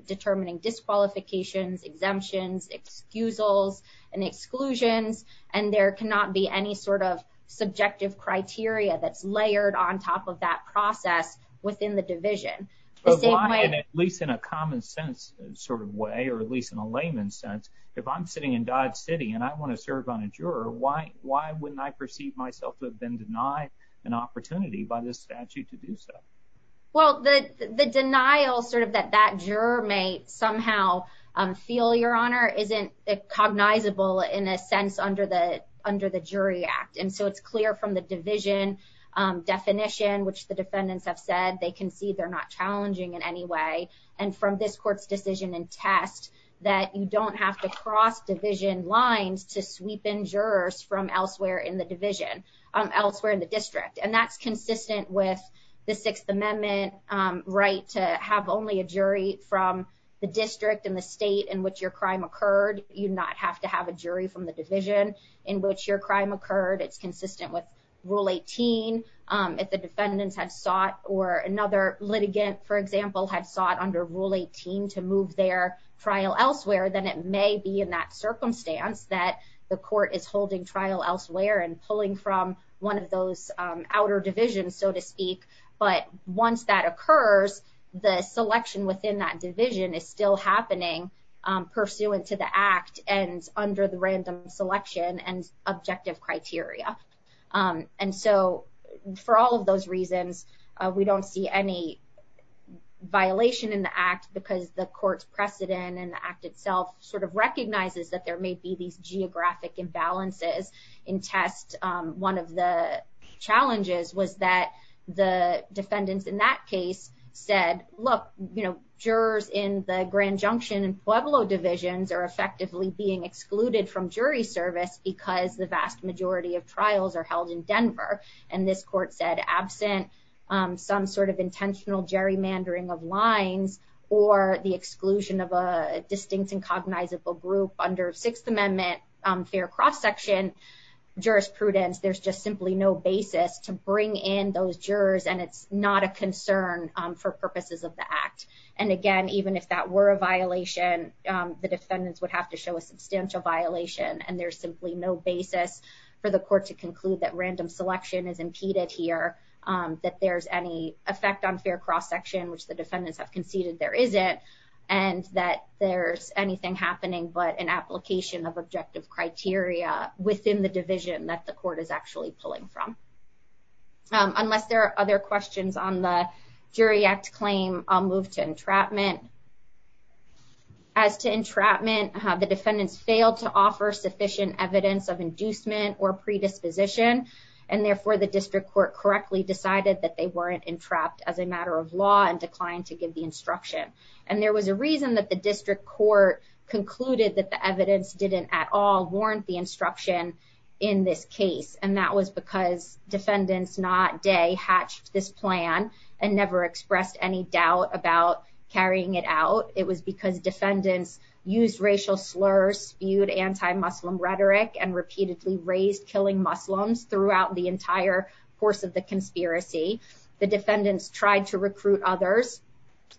determining disqualifications, exemptions, excusals, and exclusions, and there cannot be any sort of subjective criteria that's layered on top of that process within the division. At least in a common sense sort of way, or at least in a layman sense, if I'm sitting in Dodge City and I want to serve on a juror, why wouldn't I perceive myself to have been denied an opportunity by this statute to do so? Well, the denial sort of that that juror may somehow feel your honor isn't cognizable in a sense under the under the jury act, and so it's clear from the division definition, which the defendants have said they can see they're not challenging in any way, and from this court's decision and test that you don't have to cross division lines to sweep in jurors from elsewhere in the division, elsewhere in the district, and that's consistent with the Sixth Amendment right to have only a jury from the district and the state in which your crime occurred. You do not have to have a jury from the division in which your crime occurred. It's consistent with Rule 18. If a defendant has sought or another litigant, for example, had sought under Rule 18 to move their trial elsewhere, then it may be in circumstance that the court is holding trial elsewhere and pulling from one of those outer divisions, so to speak, but once that occurs, the selection within that division is still happening pursuant to the act and under the random selection and objective criteria, and so for all of those reasons, we don't see any violation in the act because the court's precedent and the act itself sort of recognizes that there may be these geographic imbalances in test. One of the challenges was that the defendants in that case said, look, you know, jurors in the Grand Junction and Pueblo divisions are effectively being excluded from jury service because the vast majority of trials are held in Denver, and this court said absent some sort of intentional gerrymandering of lines or the exclusion of a distinct and cognizable group under Sixth Amendment fair cross-section jurisprudence, there's just simply no basis to bring in those jurors, and it's not a concern for purposes of the act, and again, even if that were a violation, the defendants would have to show a substantial violation, and there's simply no basis for the court to conclude that random selection is impeded here, that there's any effect on fair cross-section, which the defendants have conceded there isn't, and that there's anything happening but an application of objective criteria within the division that the court is actually pulling from. Unless there are other questions on the jury act claim, I'll move to entrapment. As to entrapment, the defendants failed to offer sufficient evidence of inducement or predisposition, and therefore the district court correctly decided that they weren't entrapped as a matter of law and declined to give the instruction, and there was a reason that the district court concluded that the evidence didn't at all warrant the instruction in this case, and that was because defendants not day hatched this plan and never expressed any doubt about carrying it out. It was because defendants used racial slurs, spewed anti-Muslim rhetoric, and repeatedly raised killing Muslims throughout the entire course of the conspiracy. The defendants tried to recruit others,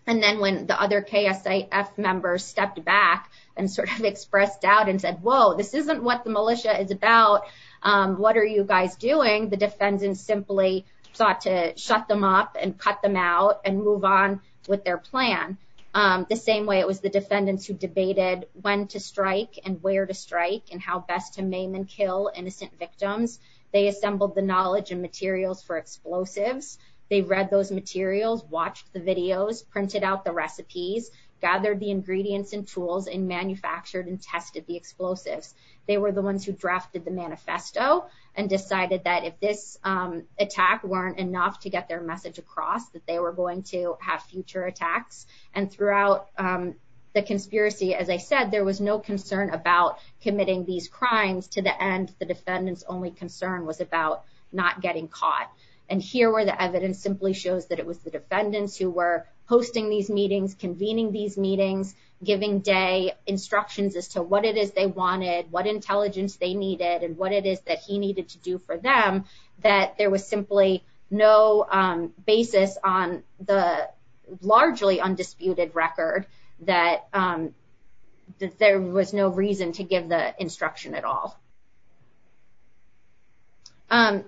and then when the other KSAS members stepped back and sort of expressed doubt and said, whoa, this isn't what the militia is about, what are you guys doing? The defendants simply thought to shut them up and cut them out and move on with their plan. The same way it was the defendants who debated when to strike and where to strike and how best to maim and kill innocent victims, they assembled the knowledge and materials for explosives. They read those materials, watched the videos, printed out the recipes, gathered the ingredients and tools, and manufactured and tested the explosives. They were the ones who drafted the manifesto and decided that if this attack weren't enough to get their message across that they were going to have future attacks. And throughout the conspiracy, as I said, there was no concern about committing these crimes. To the end, the defendants' only concern was about not getting caught. And here where the evidence simply shows that it was the defendants who were hosting these meetings, convening these meetings, giving day instructions as to what it is they wanted, what intelligence they needed, and what it is that he needed to do for them, that there was simply no basis on the largely undisputed record that there was no reason to give the instruction at all.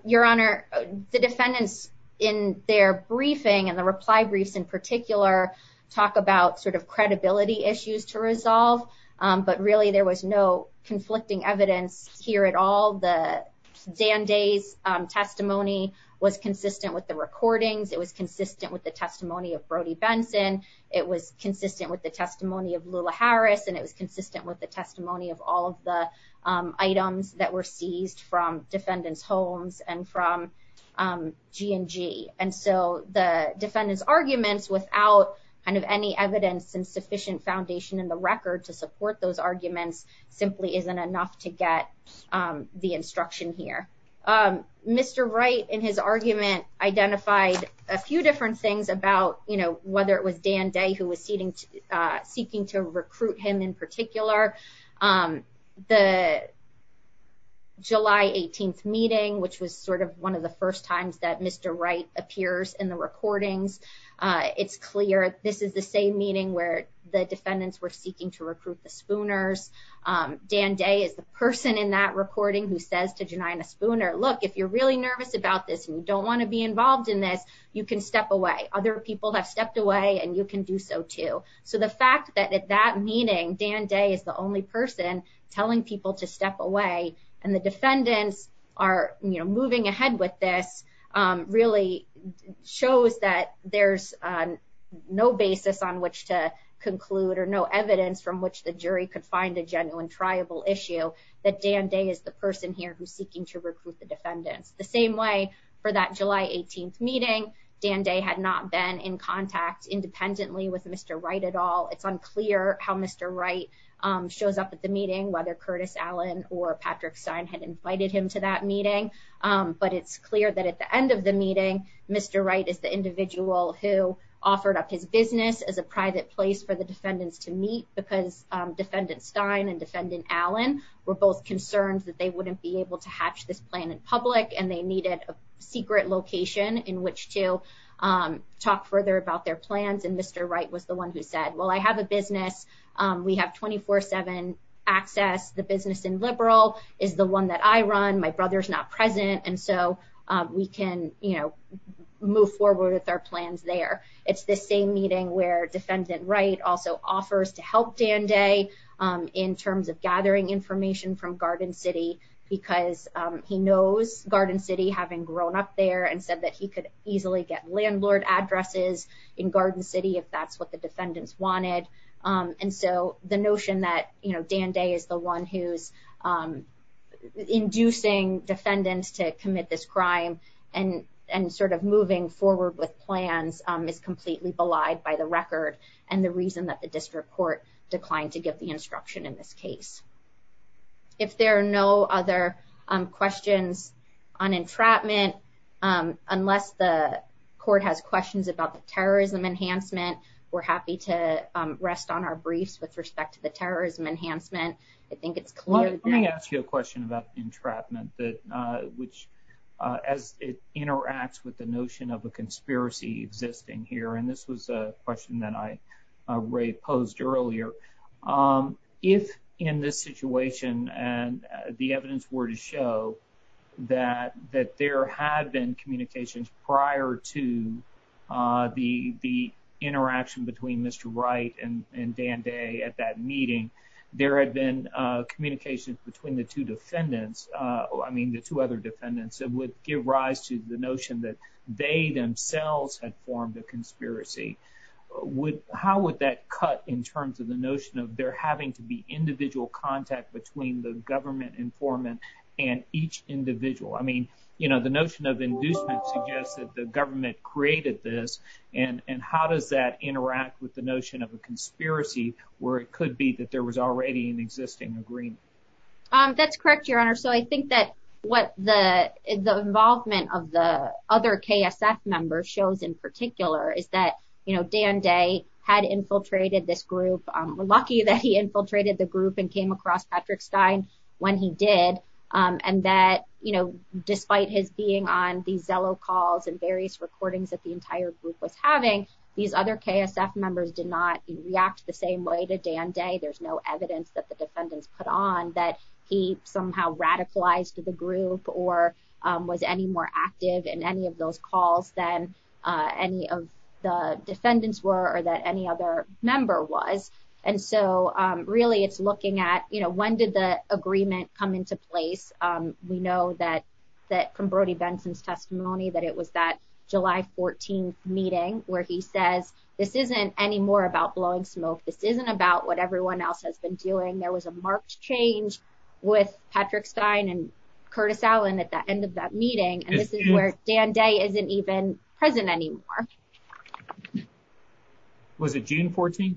Your Honor, the defendants in their briefing and the reply briefs in particular talk about sort of credibility issues to resolve, but really there was no conflicting evidence here at all. The Dan Day's testimony was consistent with the recordings, it was consistent with the testimony of Brody Benson, it was consistent with the testimony of Lula Harris, and it was consistent with the testimony of all of the items that were seized from defendants' homes and from G&G. And so the defendants' arguments without kind of any evidence and sufficient foundation in the record to support those arguments simply isn't enough to get the instruction here. Mr. Wright in his argument identified a few different things about, you know, whether it was Dan Day who was seeking to recruit him in particular. The July 18th meeting, which was sort of one of the first times that Mr. Wright appears in the recordings, it's clear this is the same meeting where the defendants were seeking to recruit the Spooners. Dan Day is the person in that recording who says to Janina Spooner, look, if you're really nervous about this and you don't want to be involved in this, you can step away. Other people have stepped away and you can do so too. So the fact that at that meeting, Dan Day is the only person telling people to step away and the defendants are, you know, moving ahead with this really shows that there's no basis on which to conclude or no evidence from which the jury could find a genuine triable issue that Dan Day is the person here who's seeking to recruit the defendant. The same way for that July 18th meeting, Dan Day had not been in contact independently with Mr. Wright at all. It's clear that at the end of the meeting, Mr. Wright is the individual who offered up his business as a private place for the defendants to meet because Defendant Stein and Defendant Allen were both concerned that they wouldn't be able to hatch this plan in public and they needed a secret location in which to talk further about their plans. And Mr. Wright was the one who said, well, I have a business. We have 24-7 access. The business in Liberal is the one that I run. My brother's not present. And so we can, you know, move forward with our plans there. It's the same meeting where Defendant Wright also offers to help Dan Day in terms of gathering information from Garden City because he knows Garden City having grown up there and said that he could easily get And so the notion that, you know, Dan Day is the one who's inducing defendants to commit this crime and sort of moving forward with plans is completely belied by the record and the reason that the district court declined to give the instruction in this case. If there are no other questions on entrapment, unless the court has questions about the terrorism enhancement, we're happy to rest on our briefs with respect to the terrorism enhancement. I think it's clear that- Well, let me ask you a question about the entrapment, which as it interacts with the notion of a conspiracy existing here, and this was a question that I, Ray, posed earlier. If in this situation and the evidence were to show that there had been communications prior to the interaction between Mr. Wright and Dan Day at that meeting, there had been communications between the two defendants, I mean, the two other defendants that would give rise to the notion that they themselves had formed a conspiracy, how would that cut in terms of the notion of there having to be individual contact between the government informant and each individual? I mean, the notion of inducement suggests that the government created this and how does that interact with the notion of a conspiracy where it could be that there was already an existing agreement? That's correct, your honor. So I think that what the involvement of the other KSS members shows in particular is that Dan Day had infiltrated this group. We're lucky that he infiltrated the group and came across Patrick Stein when he did, and that, you know, despite his being on these Zillow calls and various recordings that the entire group was having, these other KSS members did not react the same way to Dan Day. There's no evidence that the defendants put on that he somehow radicalized the group or was any more active in any of those calls than any of the defendants were or that any other member was, and so really it's looking at, you know, when did the agreement come into place? We know that from Brody Benson's testimony that it was that July 14th meeting where he says this isn't any more about blowing smoke, this isn't about what everyone else has been doing. There was a marked change with Patrick Stein and Curtis Allen at the end of that meeting, and this is where Dan Day isn't even present anymore. Was it June 14th?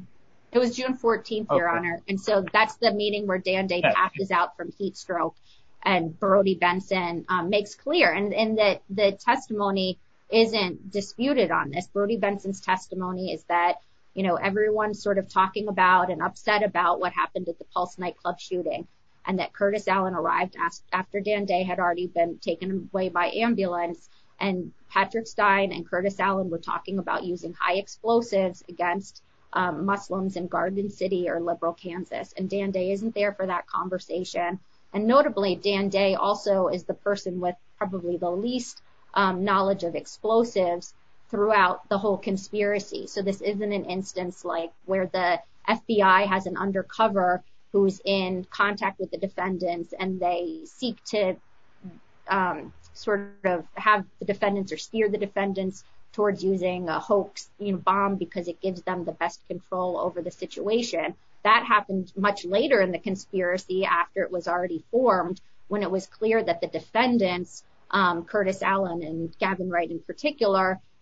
It was June 14th, your honor, and so that's the meeting where Dan Day passes out from heat stroke, and Brody Benson makes clear, and that the testimony isn't disputed on this. Brody Benson's testimony is that, you know, everyone's sort of talking about and upset about what happened at the Pulse nightclub shooting and that Curtis Allen arrived after Dan Day had already been taken away by ambulance, and Patrick Stein and Curtis Allen were talking about using high explosives against Muslims in Garden City or Liberal Kansas, and Dan Day isn't there for that conversation, and notably Dan Day also is the person with probably the least knowledge of explosives throughout the whole conspiracy, so this isn't an instance like where the FBI has an undercover who's in contact with the defendants and they seek to sort of have the defendants or steer the defendants towards using a hoax bomb because it gives them the best control over the situation. That happens much later in the conspiracy after it was already formed when it was clear that the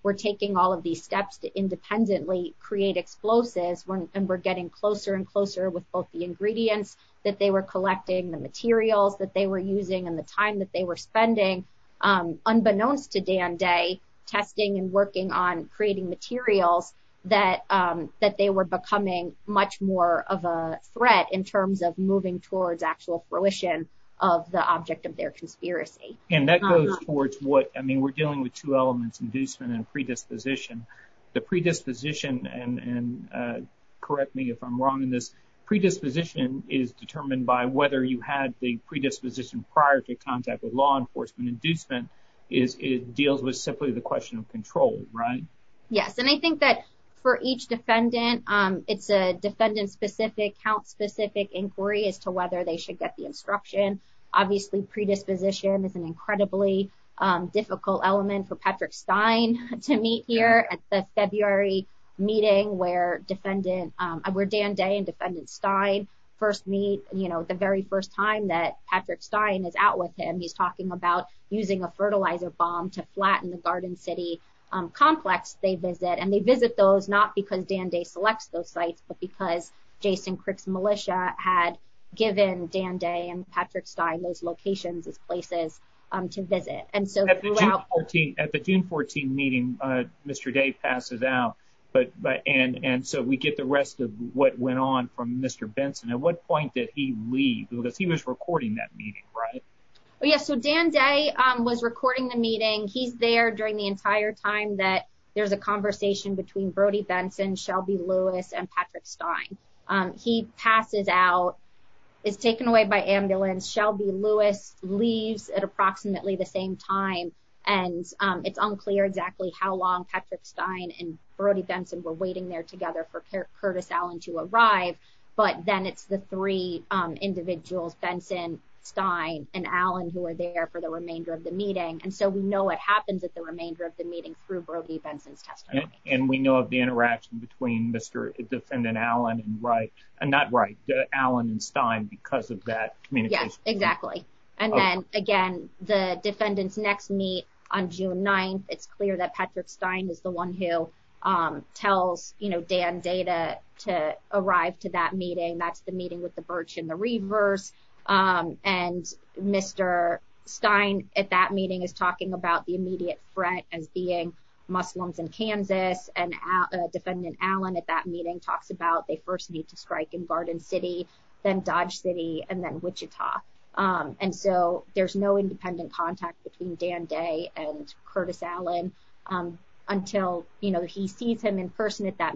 were taking all of these steps to independently create explosives when we're getting closer and closer with both the ingredients that they were collecting, the materials that they were using, and the time that they were spending, unbeknownst to Dan Day, testing and working on creating materials that they were becoming much more of a threat in terms of moving towards actual fruition of the object of their conspiracy. And that goes towards what, I mean, we're dealing with two elements, inducement and predisposition. The predisposition, and correct me if I'm wrong in this, predisposition is determined by whether you had the predisposition prior to contact with law enforcement. Inducement deals with simply the question of control, right? Yes, and I think that for each defendant, it's a defendant-specific, count-specific inquiry as to whether they should get the instruction. Obviously, predisposition is an incredibly difficult element for Patrick Stein to meet here at the February meeting where Dan Day and Defendant Stein first meet, you know, the very first time that Patrick Stein is out with him. He's talking about using a fertilizer bomb to flatten the Garden City complex they visit, and they visit those not because Dan Day selects those sites, but because Jason Crick's militia had given Dan Day and Patrick Stein those locations, those places to visit. At the June 14 meeting, Mr. Day passes out, and so we get the rest of what went on from Mr. Benson. At what point did he leave? Because he was recording that meeting, right? Yes, so Dan Day was recording the meeting. He's there during the entire time that there's a conversation between Brody Benson, Shelby Lewis, and Patrick Stein. He passes out. He's taken away by ambulance. Shelby Lewis leaves at approximately the same time, and it's unclear exactly how long Patrick Stein and Brody Benson were waiting there together for Curtis Allen to arrive, but then it's the three individuals, Benson, Stein, and Allen who are there for the remainder of the meeting, and so we know what happened with the remainder of the meeting through Brody Benson's testimony. And we know of the interaction between Mr. Allen and Stein because of that communication. Yes, exactly, and then again, the defendant's next meet on June 9th. It's clear that Patrick Stein is the one who tells Dan Day to arrive to that meeting. That's the meeting with the birch and the reed verse, and Mr. Stein at that meeting is talking about the immediate threat and seeing Muslims in Kansas, and defendant Allen at that meeting talks about they first need to strike in Barden City, then Dodge City, and then Wichita, and so there's no independent contact between Dan Day and Curtis Allen until he sees him in person at that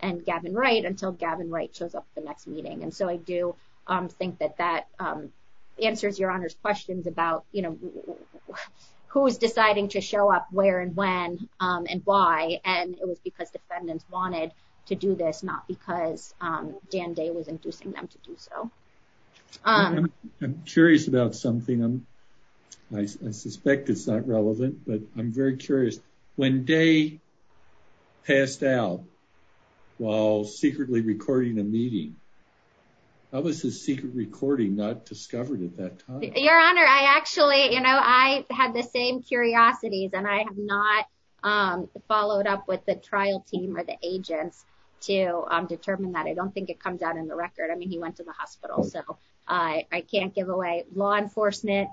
and Gavin Wright until Gavin Wright shows up at the next meeting, and so I do think that answers Your Honor's questions about, you know, who is deciding to show up where and when and why, and it was because defendants wanted to do this, not because Dan Day was inducing them to do so. I'm curious about something. I suspect it's not relevant, but I'm very curious. When Day passed out while secretly recording a meeting, how was his secret recording not discovered at that time? Your Honor, I actually, you know, I had the same curiosities, and I have not followed up with the trial team or the agent to determine that. I don't think it comes out in the record. I mean, he went to the hospital, so I can't give law enforcement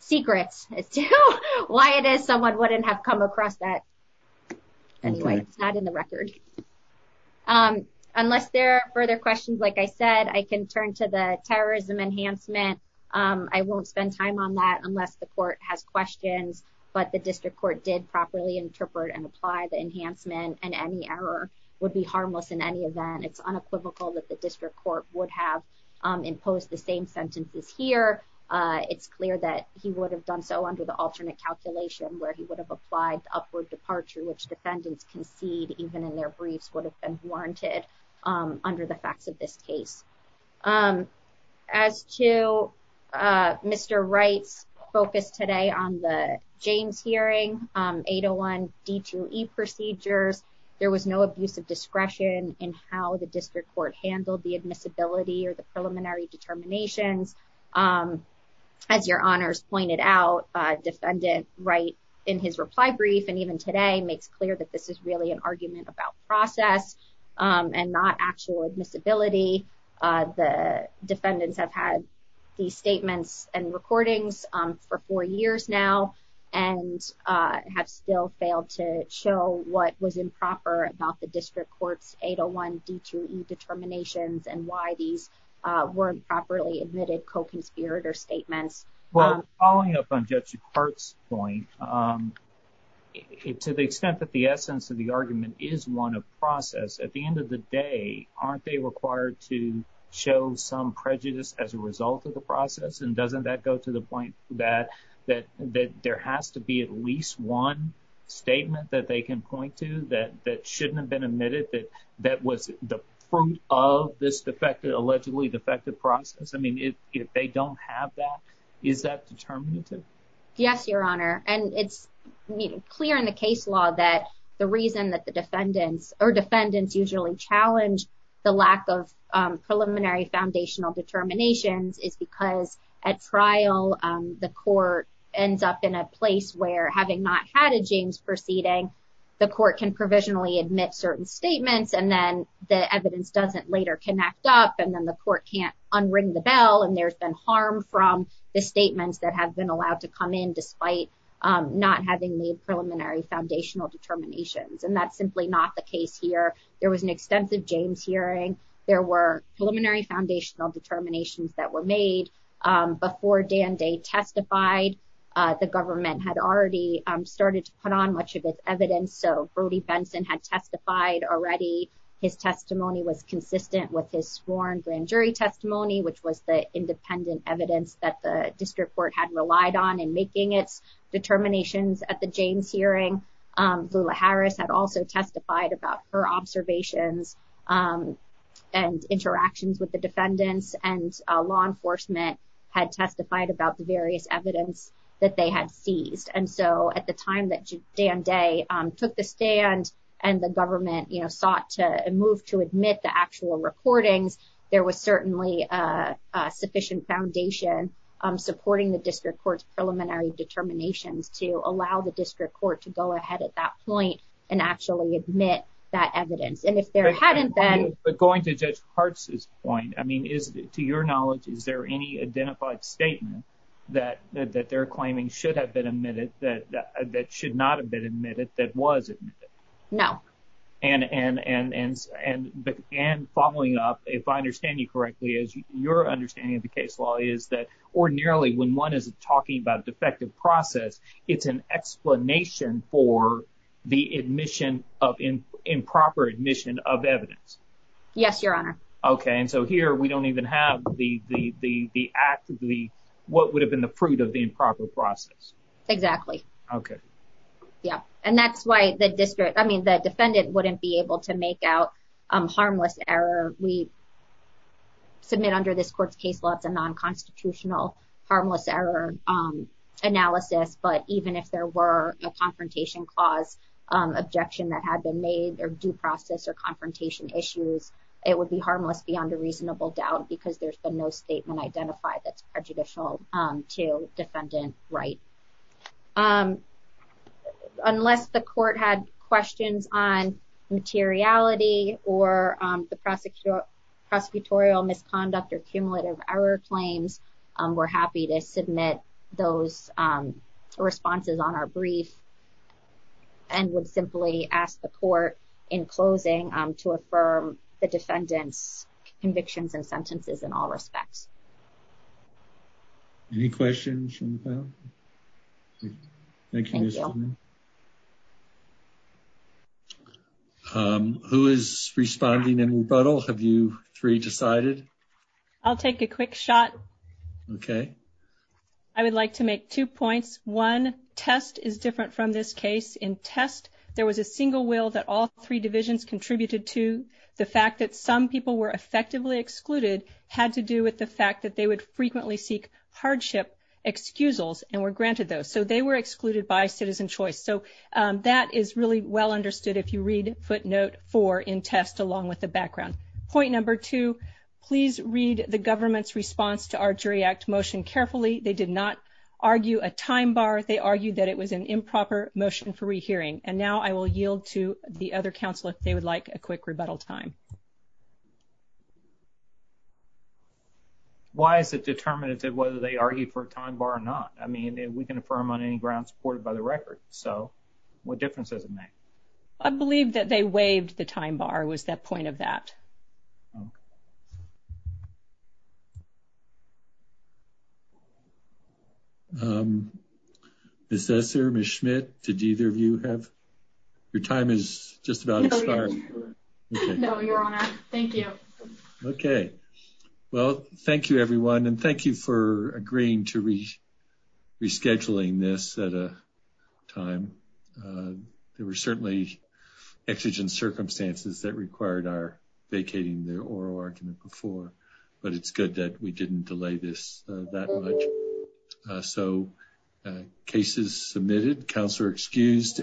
secrets as to why it is someone wouldn't have come across that. Anyway, not in the record. Unless there are further questions, like I said, I can turn to the terrorism enhancement. I won't spend time on that unless the court has questions, but the district court did properly interpret and apply the enhancement, and any error would be harmless in any event. It's unequivocal that the district court would have imposed the same sentences here, it's clear that he would have done so under the alternate calculation where he would have applied upward departure, which defendants concede even in their briefs would have been warranted under the fact of this case. As to Mr. Wright's focus today on the James hearing, 801 D2E procedures, there was no abuse of discretion in how the district court handled the admissibility or the preliminary determination. As your honors pointed out, defendants write in his reply brief, and even today, makes clear that this is really an argument about process and not actual admissibility. The defendants have had these statements and recordings for four years now, and have still failed to show what was improper about the district court's 801 D2E determinations and why these weren't properly admitted co-conspirator statements. Well, following up on Judge Hart's point, to the extent that the essence of the argument is one of process, at the end of the day, aren't they required to show some prejudice as a result of the process? And doesn't that go to the point that there has to be at least one statement that they can point to that shouldn't have been admitted, that was the fruit of this allegedly defective process? I mean, if they don't have that, is that determinative? Yes, your honor, and it's clear in the case law that the reason that the defendants usually challenge the lack of preliminary foundational determinations is because at trial, the court ends up in a place where, having not had a James proceeding, the court can provisionally admit certain statements, and then the evidence doesn't later connect up, and then the court can't unring the bell, and there's been harm from the statements that have been allowed to come in despite not having made preliminary foundational determinations. And that's simply not the case here. There was an extensive James hearing. There were preliminary foundational determinations that were made before Dan Day testified. The government had already started to put on much of this evidence, so Brody Benson had testified already. His testimony was consistent with his sworn grand jury testimony, which was the independent evidence that the district court had relied on in making its determinations at the James hearing. Lula Harris had also testified about her observations and interactions with defendants, and law enforcement had testified about the various evidence that they had seized. And so at the time that Dan Day took the stand and the government, you know, thought to move to admit the actual recording, there was certainly a sufficient foundation supporting the district court's preliminary determinations to allow the district court to go ahead at that point and actually admit that evidence. And if there hadn't been... But going to Judge Hart's point, I mean, to your knowledge, is there any identified statement that they're claiming should have been admitted that should not have been admitted that was admitted? No. And following up, if I understand you correctly, as your understanding of the case law is that when one is talking about a defective process, it's an explanation for the improper admission of evidence? Yes, your honor. Okay. And so here we don't even have what would have been the proof of the improper process. Exactly. Okay. Yeah. And that's why the defendant wouldn't be able to make out harmless error. We submit under this court's case law the non-constitutional harmless error analysis, but even if there were a confrontation clause objection that had been made or due process or confrontation issues, it would be harmless beyond a reasonable doubt because there's been no statement identified that's prejudicial to defendant's rights. Unless the court had questions on materiality or the prosecutorial misconduct or cumulative error claims, we're happy to submit those responses on our brief and would simply ask the court in closing to affirm the defendant's convictions and sentences in all respects. Any questions from the panel? Okay. Who is responding in rebuttal? Have you three decided? I'll take a quick shot. Okay. I would like to make two points. One, test is different from this case. In test, there was a single will that all three divisions contributed to. The fact that some people were effectively excluded had to do with the fact that they would frequently seek hardship excusals and were granted those. So, they were excluded by citizen choice. So, that is really well understood if you read footnote four in test along with the background. Point number two, please read the government's response to our jury act motion carefully. They did not argue a time bar. They argued that it was an improper motion for rehearing. And now, I will yield to the other counselors if they would like a quick rebuttal time. Why is it determinative whether they argue for a time bar or not? I mean, we can affirm on any ground supported by the record. So, what difference does it make? I believe that they waived the time bar was the point of that. Ms. Esser, Ms. Schmidt, did either of you have? Your time is just about to start. No, your honor. Thank you. Okay. Well, thank you, everyone. And thank you for agreeing to rescheduling this at a time. There were certainly exigent circumstances that required our vacating the oral argument before, but it's good that we didn't delay this that much. So, cases submitted, counselor excused.